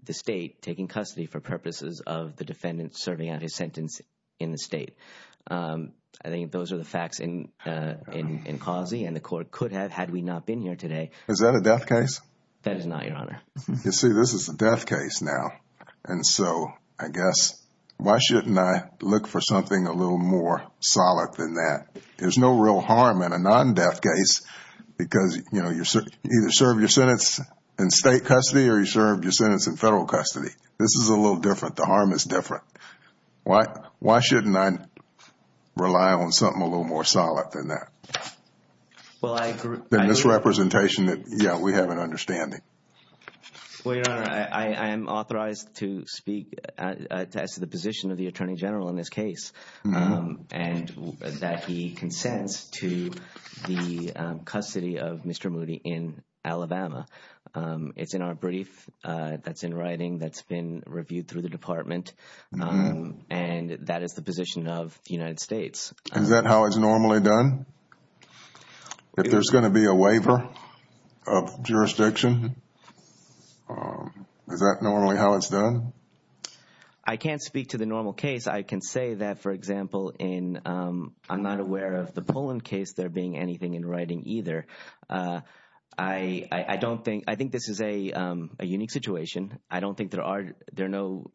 the state taking custody for purposes of the defendant serving out his sentence in the state. I think those are the facts in Causey, and the court could have had we not been here today. Is that a death case? That is not, Your Honor. You see, this is a death case now. And so I guess why shouldn't I look for something a little more solid than that? There's no real harm in a non-death case because, you know, you either served your sentence in state custody or you served your sentence in federal custody. This is a little different. The harm is different. Why shouldn't I rely on something a little more solid than that? Well, I agree. In this representation, yeah, we have an understanding. Well, Your Honor, I am authorized to speak as to the position of the Attorney General in this case and that he consents to the custody of Mr. Moody in Alabama. It's in our brief that's in writing that's been reviewed through the Department, and that is the position of the United States. Is that how it's normally done? If there's going to be a waiver of jurisdiction, is that normally how it's done? I can't speak to the normal case. I can say that, for example, I'm not aware of the Poland case there being anything in writing either. I don't think – I think this is a unique situation. I don't think there are – there are no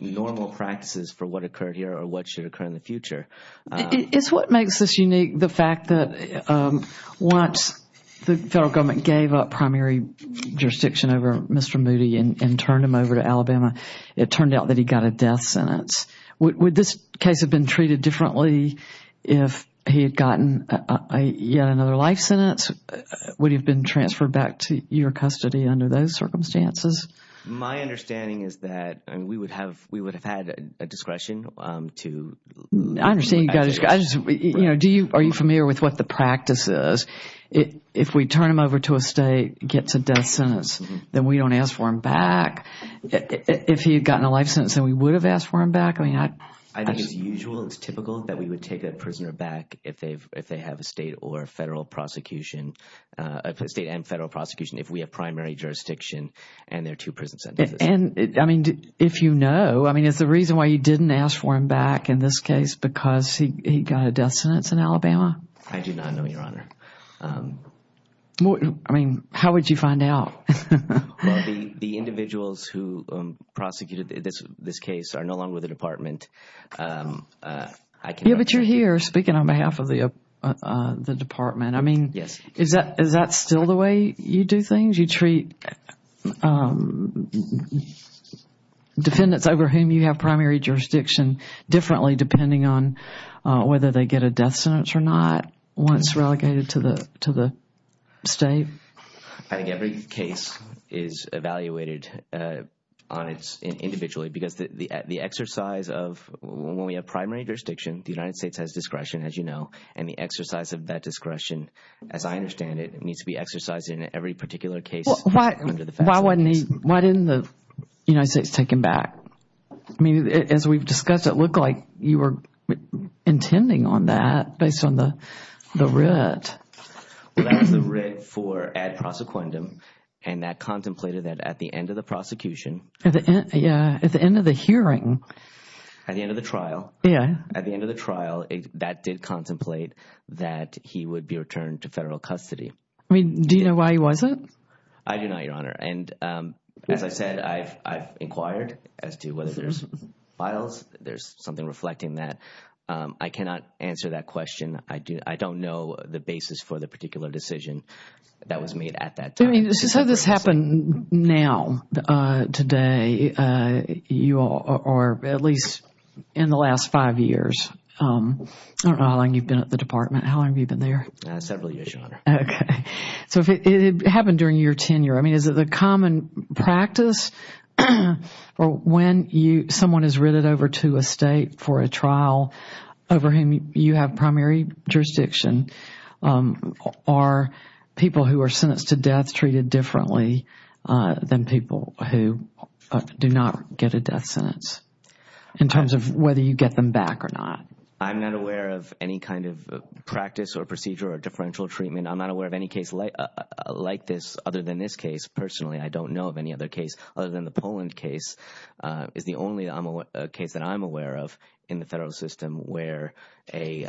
normal practices for what occurred here or what should occur in the future. It's what makes this unique, the fact that once the federal government gave up primary jurisdiction over Mr. Moody and turned him over to Alabama, it turned out that he got a death sentence. Would this case have been treated differently if he had gotten yet another life sentence? Would he have been transferred back to your custody under those circumstances? My understanding is that we would have had a discretion to – I understand you guys. Do you – are you familiar with what the practice is? If we turn him over to a state, gets a death sentence, then we don't ask for him back. If he had gotten a life sentence, then we would have asked for him back. I think it's usual. It's typical that we would take a prisoner back if they have a state or federal prosecution – a state and federal prosecution if we have primary jurisdiction. And there are two prison sentences. And, I mean, if you know – I mean, is the reason why you didn't ask for him back in this case because he got a death sentence in Alabama? I do not know, Your Honor. I mean, how would you find out? The individuals who prosecuted this case are no longer with the department. Yeah, but you're here speaking on behalf of the department. I mean, is that still the way you do things? How would you treat defendants over whom you have primary jurisdiction differently depending on whether they get a death sentence or not once relegated to the state? I think every case is evaluated individually because the exercise of – when we have primary jurisdiction, the United States has discretion, as you know. And the exercise of that discretion, as I understand it, needs to be exercised in every particular case. Why didn't the United States take him back? I mean, as we've discussed, it looked like you were intending on that based on the writ. That was the writ for ad prosequendum, and that contemplated that at the end of the prosecution. Yeah, at the end of the hearing. At the end of the trial. Yeah. At the end of the trial, that did contemplate that he would be returned to federal custody. Do you know why he wasn't? I do not, Your Honor. And as I said, I've inquired as to whether there's files, there's something reflecting that. I cannot answer that question. I don't know the basis for the particular decision that was made at that time. I mean, so this happened now, today, or at least in the last five years. I don't know how long you've been at the department. How long have you been there? Several years, Your Honor. Okay. So it happened during your tenure. I mean, is it a common practice when someone is written over to a state for a trial over whom you have primary jurisdiction? Are people who are sentenced to death treated differently than people who do not get a death sentence in terms of whether you get them back or not? I'm not aware of any kind of practice or procedure or differential treatment. I'm not aware of any case like this other than this case, personally. I don't know of any other case other than the Poland case. It's the only case that I'm aware of in the federal system where a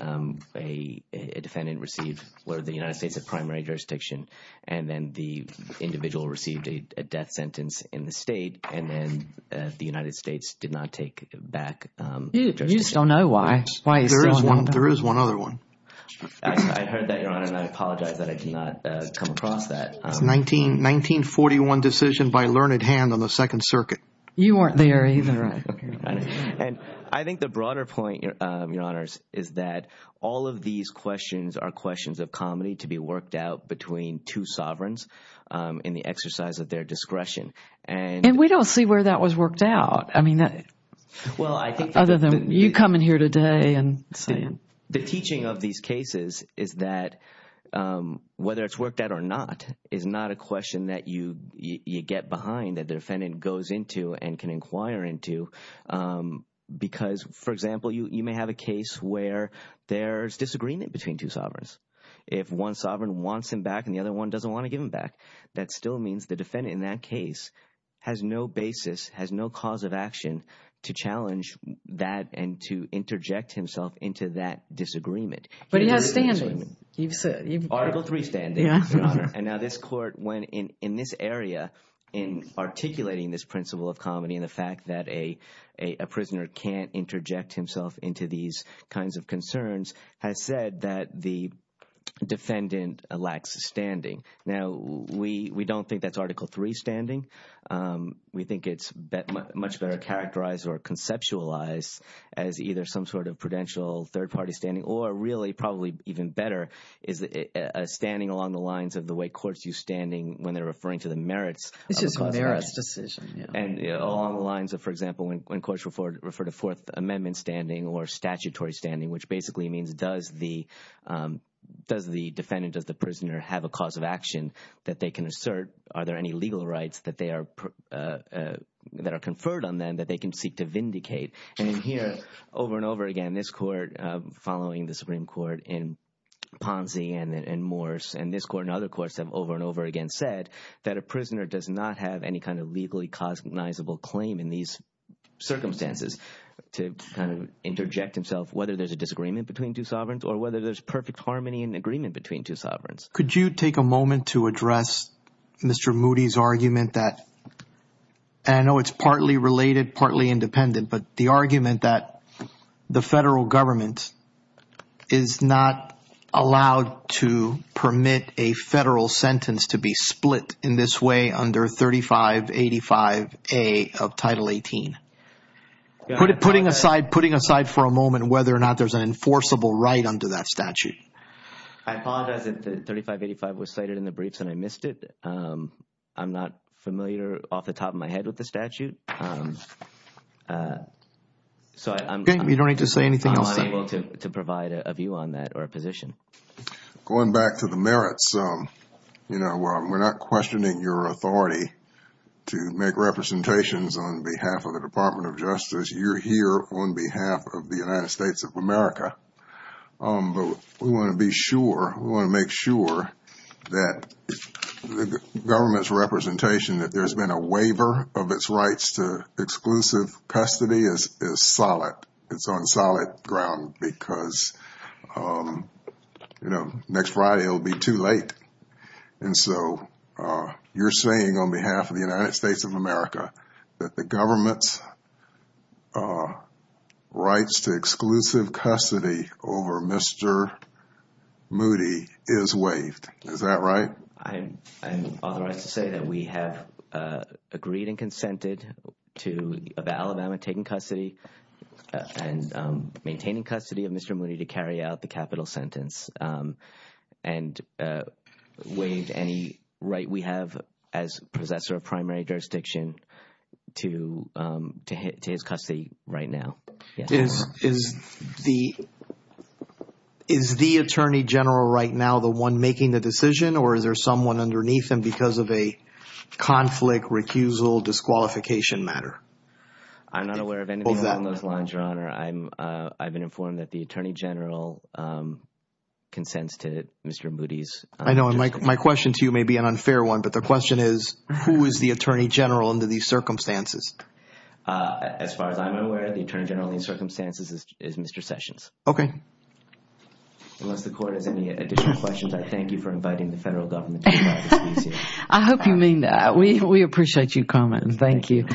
defendant received – where the United States had primary jurisdiction, and then the individual received a death sentence in the state, and then the United States did not take back jurisdiction. You just don't know why. There is one other one. I heard that, Your Honor, and I apologize that I did not come across that. 1941 decision by learned hand on the Second Circuit. You weren't there either. I think the broader point, Your Honors, is that all of these questions are questions of comedy to be worked out between two sovereigns in the exercise of their discretion. And we don't see where that was worked out. I mean, other than you coming here today and saying – The teaching of these cases is that whether it's worked out or not is not a question that you get behind, that the defendant goes into and can inquire into, because, for example, you may have a case where there's disagreement between two sovereigns. If one sovereign wants him back and the other one doesn't want to give him back, that still means the defendant in that case has no basis, has no cause of action to challenge that and to interject himself into that. But he has standing. Article III standing, Your Honor. And now this court, in this area, in articulating this principle of comedy and the fact that a prisoner can't interject himself into these kinds of concerns, has said that the defendant lacks standing. Now, we don't think that's Article III standing. We think it's much better characterized or conceptualized as either some sort of prudential third-party standing or, really, probably even better is a standing along the lines of the way courts use standing when they're referring to the merits of a merits decision. And along the lines of, for example, when courts refer to Fourth Amendment standing or statutory standing, which basically means does the defendant or the prisoner have a cause of action that they can assert? Are there any legal rights that are conferred on them that they can seek to vindicate? And here, over and over again, this court, following the Supreme Court in Ponzi and Morse, and this court and other courts have over and over again said that a prisoner does not have any kind of legally cognizable claim in these circumstances to interject himself, whether there's a disagreement between two sovereigns or whether there's perfect harmony and agreement between two sovereigns. Could you take a moment to address Mr. Moody's argument that, and I know it's partly related, partly independent, but the argument that the federal government is not allowed to permit a federal sentence to be split in this way under 3585A of Title 18? Putting aside for a moment whether or not there's an enforceable right under that statute. I apologize that 3585 was cited in the briefs and I missed it. I'm not familiar off the top of my head with the statute. So I'm not able to provide a view on that or a position. Going back to the merits, you know, we're not questioning your authority to make representations on behalf of the Department of Justice. You're here on behalf of the United States of America. But we want to be sure, we want to make sure that the government's representation that there's been a waiver of its rights to exclusive custody is solid. It's on solid ground because, you know, next Friday it will be too late. And so you're saying on behalf of the United States of America that the government's rights to exclusive custody over Mr. Moody is waived. Is that right? I'm authorized to say that we have agreed and consented to the Alabama taking custody and maintaining custody of Mr. Moody to carry out the capital sentence. And waive any right we have as possessor of primary jurisdiction to his custody right now. Is the Attorney General right now the one making the decision or is there someone underneath him because of a conflict, recusal, disqualification matter? I'm not aware of anything, Your Honor. I've been informed that the Attorney General consented to Mr. Moody's. I know, and my question to you may be an unfair one, but the question is, who is the Attorney General under these circumstances? As far as I'm aware, the Attorney General in these circumstances is Mr. Sessions. Okay. Unless the court has any additional questions, I thank you for inviting the federal government. I hope you mean that. We appreciate you commenting. Thank you.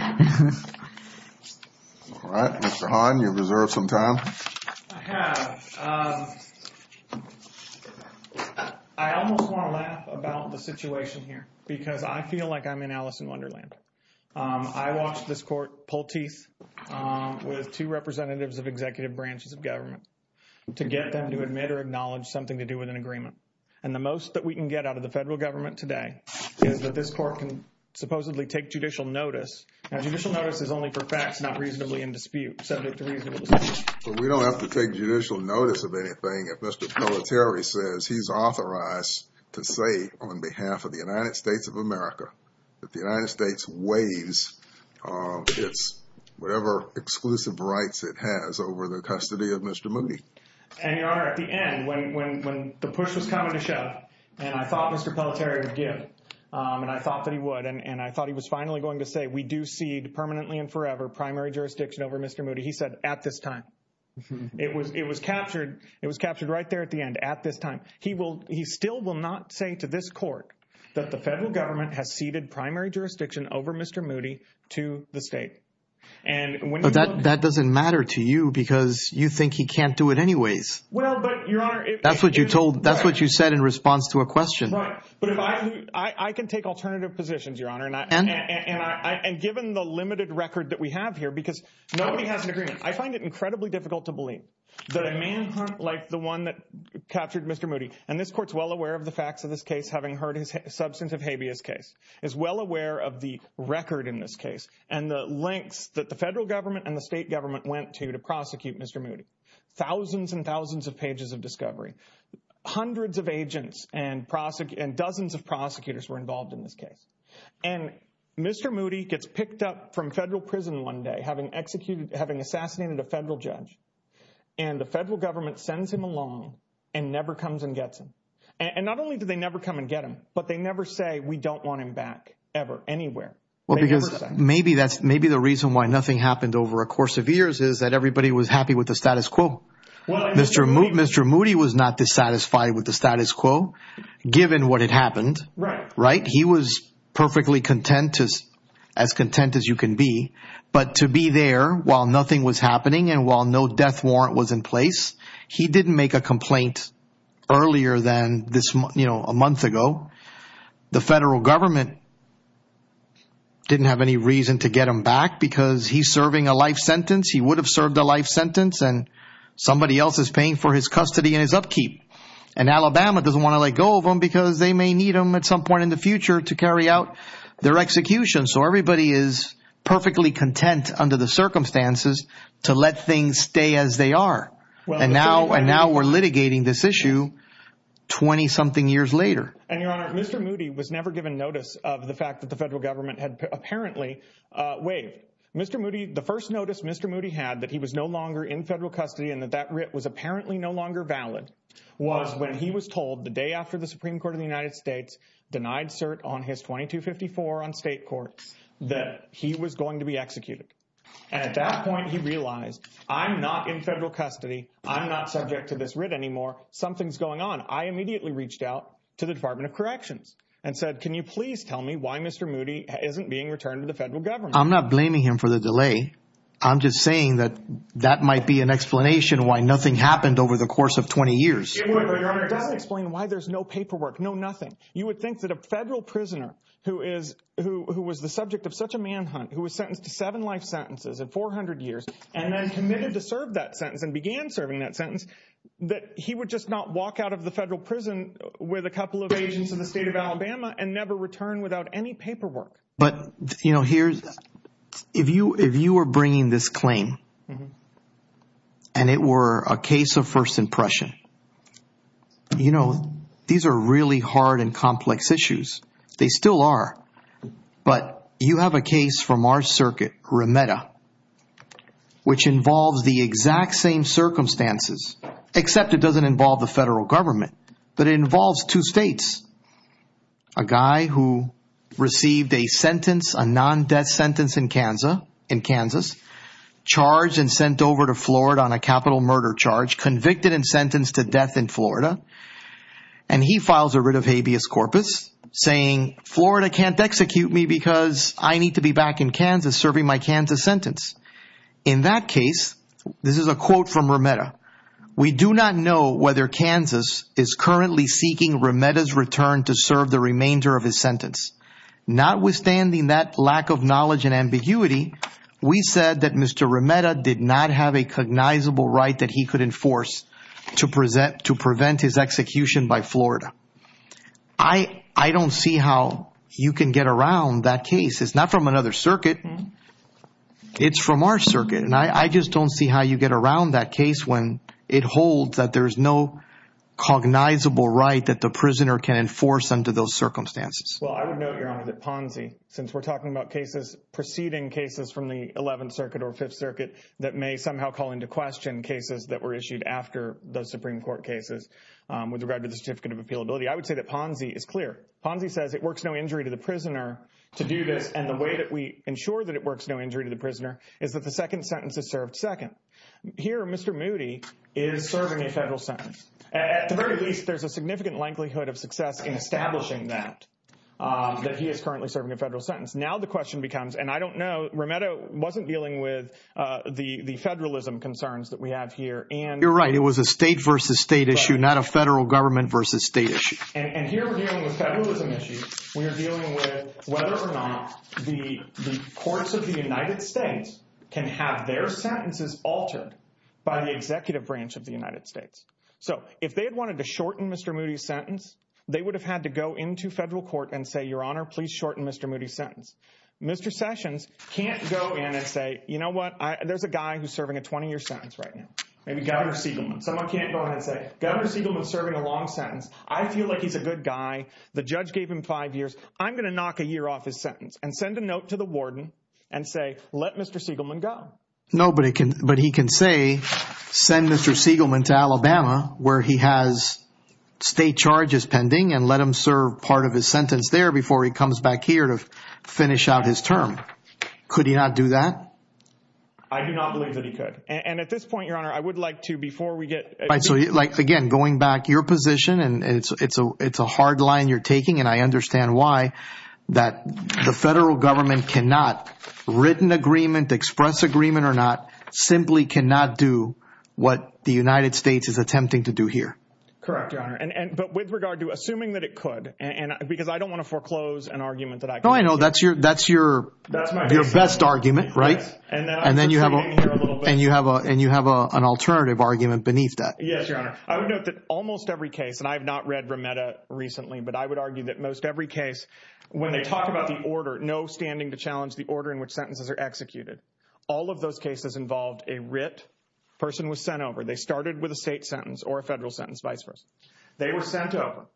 All right. Mr. Hahn, you've reserved some time. I almost want to laugh about the situation here because I feel like I'm in Alice in Wonderland. I watched this court pull teeth with two representatives of executive branches of government to get them to admit or acknowledge something to do with an agreement. The most that we can get out of the federal government today is that this court can supposedly take judicial notice. Now, judicial notice is only for facts, not reasonably in dispute. We don't have to take judicial notice of anything if Mr. Terry says he's authorized to say on behalf of the United States of America that the United States waives whatever exclusive rights it has over the custody of Mr. Moody. And, Your Honor, at the end, when the push was coming to shove, and I thought Mr. Pelletier would give, and I thought that he would, and I thought he was finally going to say we do cede permanently and forever primary jurisdiction over Mr. Moody, he said at this time. It was captured right there at the end, at this time. He still will not say to this court that the federal government has ceded primary jurisdiction over Mr. Moody to the state. But that doesn't matter to you because you think he can't do it anyways. That's what you said in response to a question. I can take alternative positions, Your Honor, and given the limited record that we have here, because nobody has an agreement. I find it incredibly difficult to believe that a man like the one that captured Mr. Moody, and this court's well aware of the facts of this case, having heard his substantive habeas case, is well aware of the record in this case. And the length that the federal government and the state government went to to prosecute Mr. Moody. Thousands and thousands of pages of discovery. Hundreds of agents and dozens of prosecutors were involved in this case. And Mr. Moody gets picked up from federal prison one day, having executed, having assassinated a federal judge. And the federal government sends him along and never comes and gets him. And not only do they never come and get him, but they never say we don't want him back ever anywhere. Maybe the reason why nothing happened over a course of years is that everybody was happy with the status quo. Mr. Moody was not dissatisfied with the status quo, given what had happened. He was perfectly content, as content as you can be. But to be there while nothing was happening and while no death warrant was in place, he didn't make a complaint earlier than a month ago. The federal government didn't have any reason to get him back because he's serving a life sentence. He would have served a life sentence and somebody else is paying for his custody and his upkeep. And Alabama doesn't want to let go of him because they may need him at some point in the future to carry out their execution. So everybody is perfectly content under the circumstances to let things stay as they are. And now we're litigating this issue 20 something years later. And, Your Honor, Mr. Moody was never given notice of the fact that the federal government had apparently waived. Mr. Moody, the first notice Mr. Moody had that he was no longer in federal custody and that that writ was apparently no longer valid, was when he was told the day after the Supreme Court of the United States denied cert on his 2254 on state court that he was going to be executed. And at that point he realized, I'm not in federal custody. I'm not subject to this writ anymore. Something's going on. I immediately reached out to the Department of Corrections and said, can you please tell me why Mr. Moody isn't being returned to the federal government? I'm not blaming him for the delay. I'm just saying that that might be an explanation why nothing happened over the course of 20 years. That would explain why there's no paperwork, no nothing. You would think that a federal prisoner who was the subject of such a manhunt, who was sentenced to seven life sentences and 400 years and then committed to serve that sentence and began serving that sentence, that he would just not walk out of the federal prison with a couple of agents in the state of Alabama and never return without any paperwork. But if you were bringing this claim and it were a case of first impression, these are really hard and complex issues. They still are. But you have a case from our circuit, Remeda, which involves the exact same circumstances, except it doesn't involve the federal government, but it involves two states. A guy who received a non-death sentence in Kansas, charged and sent over to Florida on a capital murder charge, convicted and sentenced to death in Florida, and he files a writ of habeas corpus, saying Florida can't execute me because I need to be back in Kansas serving my Kansas sentence. In that case, this is a quote from Remeda, we do not know whether Kansas is currently seeking Remeda's return to serve the remainder of his sentence. Notwithstanding that lack of knowledge and ambiguity, we said that Mr. Remeda did not have a cognizable right that he could enforce to prevent his execution by Florida. I don't see how you can get around that case. It's not from another circuit, it's from our circuit. And I just don't see how you get around that case when it holds that there's no cognizable right that the prisoner can enforce under those circumstances. Well, I don't know, Your Honor, that Ponzi, since we're talking about cases, proceeding cases from the 11th Circuit or 5th Circuit, that may somehow call into question cases that were issued after the Supreme Court cases with regard to the certificate of appealability. I would say that Ponzi is clear. Ponzi says it works no injury to the prisoner to do this, and the way that we ensure that it works no injury to the prisoner is that the second sentence is served second. Here, Mr. Moody is serving a federal sentence. At the very least, there's a significant likelihood of success in establishing that, that he is currently serving a federal sentence. Now the question becomes, and I don't know, Remeda wasn't dealing with the federalism concerns that we have here. You're right. It was a state versus state issue, not a federal government versus state issue. And here we're dealing with federalism issues. We are dealing with whether or not the courts of the United States can have their sentences altered by the executive branch of the United States. So if they had wanted to shorten Mr. Moody's sentence, they would have had to go into federal court and say, Your Honor, please shorten Mr. Moody's sentence. Mr. Sessions can't go in and say, you know what, there's a guy who's serving a 20-year sentence right now. Maybe Governor Siegelman. Someone can't go in and say, Governor Siegelman's serving a long sentence. I feel like he's a good guy. The judge gave him five years. I'm going to knock a year off his sentence and send a note to the warden and say, let Mr. Siegelman go. No, but he can say, send Mr. Siegelman to Alabama where he has state charges pending and let him serve part of his sentence there before he comes back here to finish out his term. Could he not do that? I do not believe that he could. And at this point, Your Honor, I would like to, before we get. So, again, going back to your position, and it's a hard line you're taking, and I understand why, that the federal government cannot, written agreement, express agreement or not, simply cannot do what the United States is attempting to do here. Correct, Your Honor. But with regard to assuming that it could, because I don't want to foreclose an argument that I could. No, I know. That's your best argument, right? And then you have an alternative argument beneath that. Yes, Your Honor. I would note that almost every case, and I have not read Remeda recently, but I would argue that most every case, when they talk about the order, no standing to challenge the order in which sentences are executed, all of those cases involved a writ, person was sent over. They started with a state sentence or a federal sentence, vice versa. They were sent over.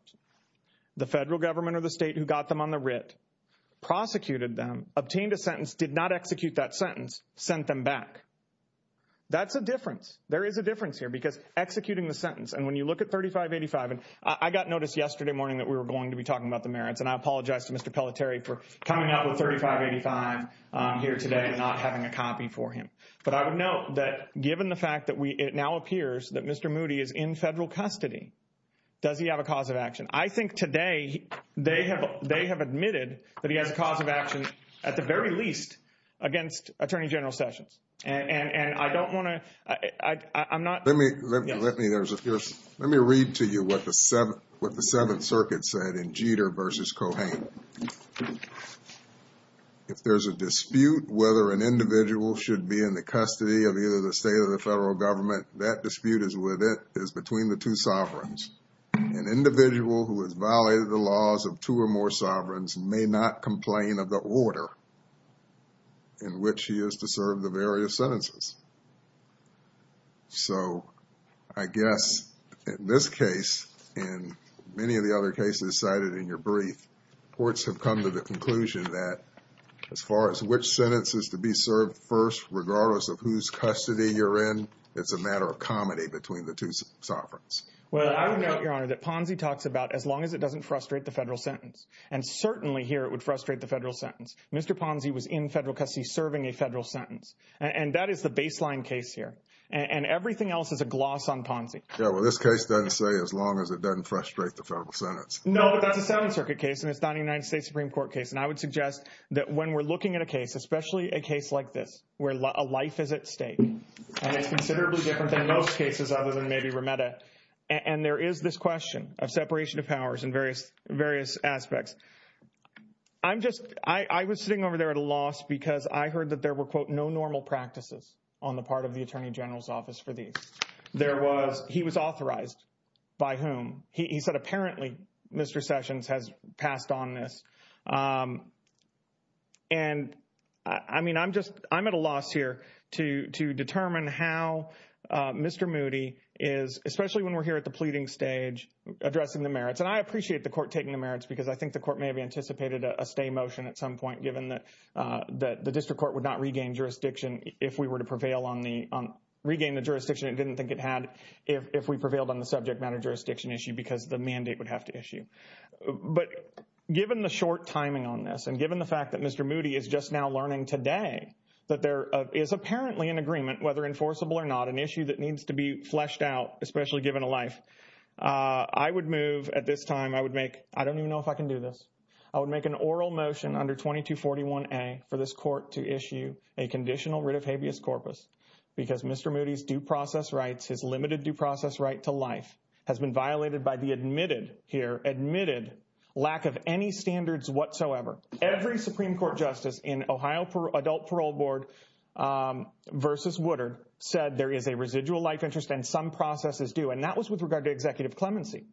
The federal government or the state who got them on the writ prosecuted them, obtained a sentence, did not execute that sentence, sent them back. That's the difference. There is a difference here because executing the sentence, and when you look at 3585, and I got notice yesterday morning that we were going to be talking about the merits, and I apologize to Mr. Pelletier for coming out with 3585 here today and not having a copy for him. But I would note that given the fact that it now appears that Mr. Moody is in federal custody, does he have a cause of action? I think today they have admitted that he has a cause of action, at the very least, against Attorney General Sessions. And I don't want to – I'm not – Let me read to you what the Seventh Circuit said in Jeter v. Cohan. If there's a dispute whether an individual should be in the custody of either the state or the federal government, that dispute is between the two sovereigns. An individual who has violated the laws of two or more sovereigns may not complain of the order in which he is to serve the various sentences. So I guess in this case, and many of the other cases cited in your brief, courts have come to the conclusion that as far as which sentences to be served first, regardless of whose custody you're in, it's a matter of comedy between the two sovereigns. Well, I would note, Your Honor, that Ponzi talks about as long as it doesn't frustrate the federal sentence. And certainly here it would frustrate the federal sentence. Mr. Ponzi was in federal custody serving a federal sentence. And that is the baseline case here. And everything else is a gloss on Ponzi. Yeah, well, this case doesn't say as long as it doesn't frustrate the federal sentence. No, but that's a Seventh Circuit case, and it's not a United States Supreme Court case. And I would suggest that when we're looking at a case, especially a case like this, where a life is at stake, and it's considerably different than most cases other than maybe Remeda, and there is this question of separation of powers in various aspects. I'm just – I was sitting over there at a loss because I heard that there were, quote, no normal practices on the part of the Attorney General's Office for these. There was – he was authorized. By whom? He said apparently Mr. Sessions has passed on this. And, I mean, I'm just – I'm at a loss here to determine how Mr. Moody is, especially when we're here at the pleading stage, addressing the merits. And I appreciate the court taking the merits because I think the court may have anticipated a stay motion at some point, given that the district court would not regain jurisdiction if we were to prevail on the – regain the jurisdiction it didn't think it had if we prevailed on the subject matter jurisdiction issue because the mandate would have to issue. But given the short timing on this and given the fact that Mr. Moody is just now learning today that there is apparently an agreement, whether enforceable or not, an issue that needs to be fleshed out, especially given a life, I would move at this time – I would make – I don't even know if I can do this. I would make an oral motion under 2241A for this court to issue a conditional writ of habeas corpus because Mr. Moody's due process rights, his limited due process right to life, has been violated by the admitted here – admitted lack of any standards whatsoever. Every Supreme Court justice in Ohio Adult Parole Board versus Woodard said there is a residual life interest and some processes do, and that was with regard to executive clemency.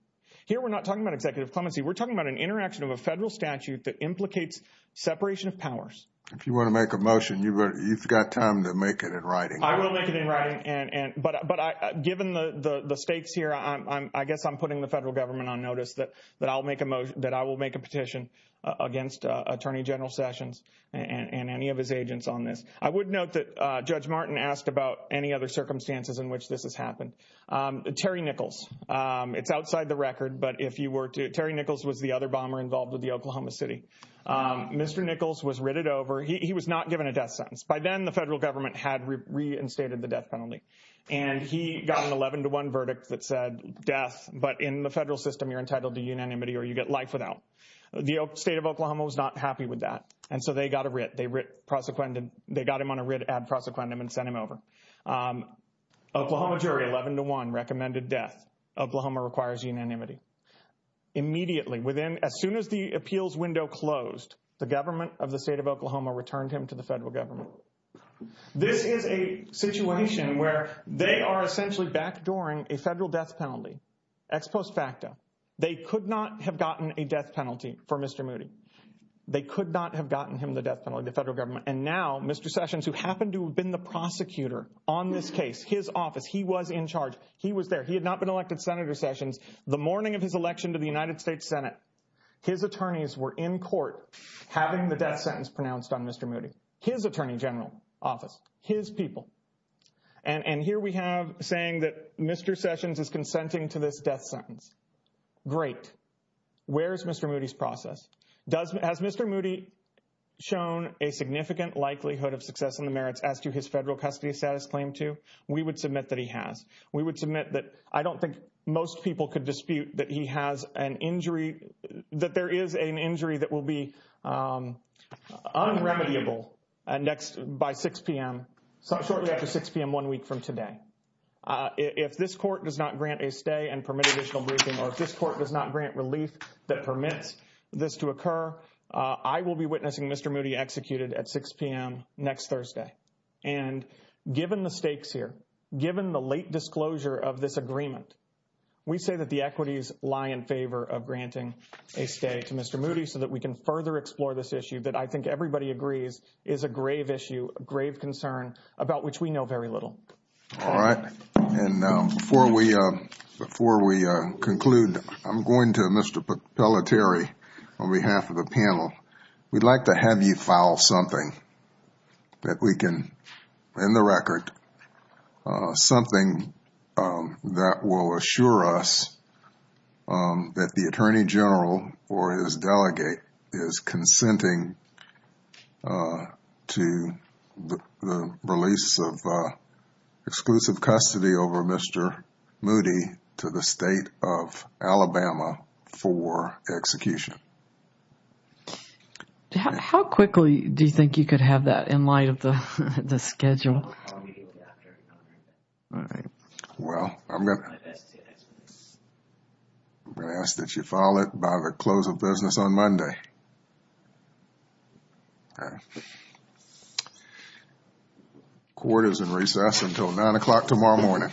Here we're not talking about executive clemency. We're talking about an interaction of a federal statute that implicates separation of powers. If you want to make a motion, you've got time to make it in writing. I will make it in writing. But given the stakes here, I guess I'm putting the federal government on notice that I will make a petition against Attorney General Sessions and any of his agents on this. I would note that Judge Martin asked about any other circumstances in which this has happened. Terry Nichols. It's outside the record, but if you were to – Terry Nichols was the other bomber involved with the Oklahoma City. Mr. Nichols was written over. He was not given a death sentence. By then, the federal government had reinstated the death penalty, and he got an 11-to-1 verdict that said death, but in the federal system, you're entitled to unanimity or you get life without. The state of Oklahoma was not happy with that, and so they got a writ. They got him on a writ ad prosecondum and sent him over. Oklahoma Jury, 11-to-1, recommended death. Oklahoma requires unanimity. Immediately, as soon as the appeals window closed, the government of the state of Oklahoma returned him to the federal government. This is a situation where they are essentially backdooring a federal death penalty ex post facto. They could not have gotten a death penalty for Mr. Moody. They could not have gotten him the death penalty, the federal government, and now Mr. Sessions, who happened to have been the prosecutor on this case, his office, he was in charge, he was there. He had not been elected Senator Sessions. The morning of his election to the United States Senate, his attorneys were in court having the death sentence pronounced on Mr. Moody, his attorney general office, his people. And here we have saying that Mr. Sessions is consenting to this death sentence. Great. Where is Mr. Moody's process? Has Mr. Moody shown a significant likelihood of success in the merits as to his federal custody status claim to? We would submit that he has. We would submit that I don't think most people could dispute that he has an injury, that there is an injury that will be unremediable by 6 p.m., shortly after 6 p.m. one week from today. If this court does not grant a stay and permit additional briefing, or if this court does not grant relief that permits this to occur, I will be witnessing Mr. Moody executed at 6 p.m. next Thursday. And given the stakes here, given the late disclosure of this agreement, we say that the equities lie in favor of granting a stay to Mr. Moody so that we can further explore this issue that I think everybody agrees is a grave issue, a grave concern about which we know very little. All right. And before we conclude, I'm going to Mr. Pelletieri on behalf of the panel. We'd like to have you file something that we can, in the record, something that will assure us that the Attorney General or his delegate is consenting to the release of exclusive custody over Mr. Moody to the State of Alabama for execution. How quickly do you think you could have that in light of the schedule? All right. Well, I'm going to ask that you file it by the close of business on Monday. All right. Court is in recess until 9 o'clock tomorrow morning. Thank you.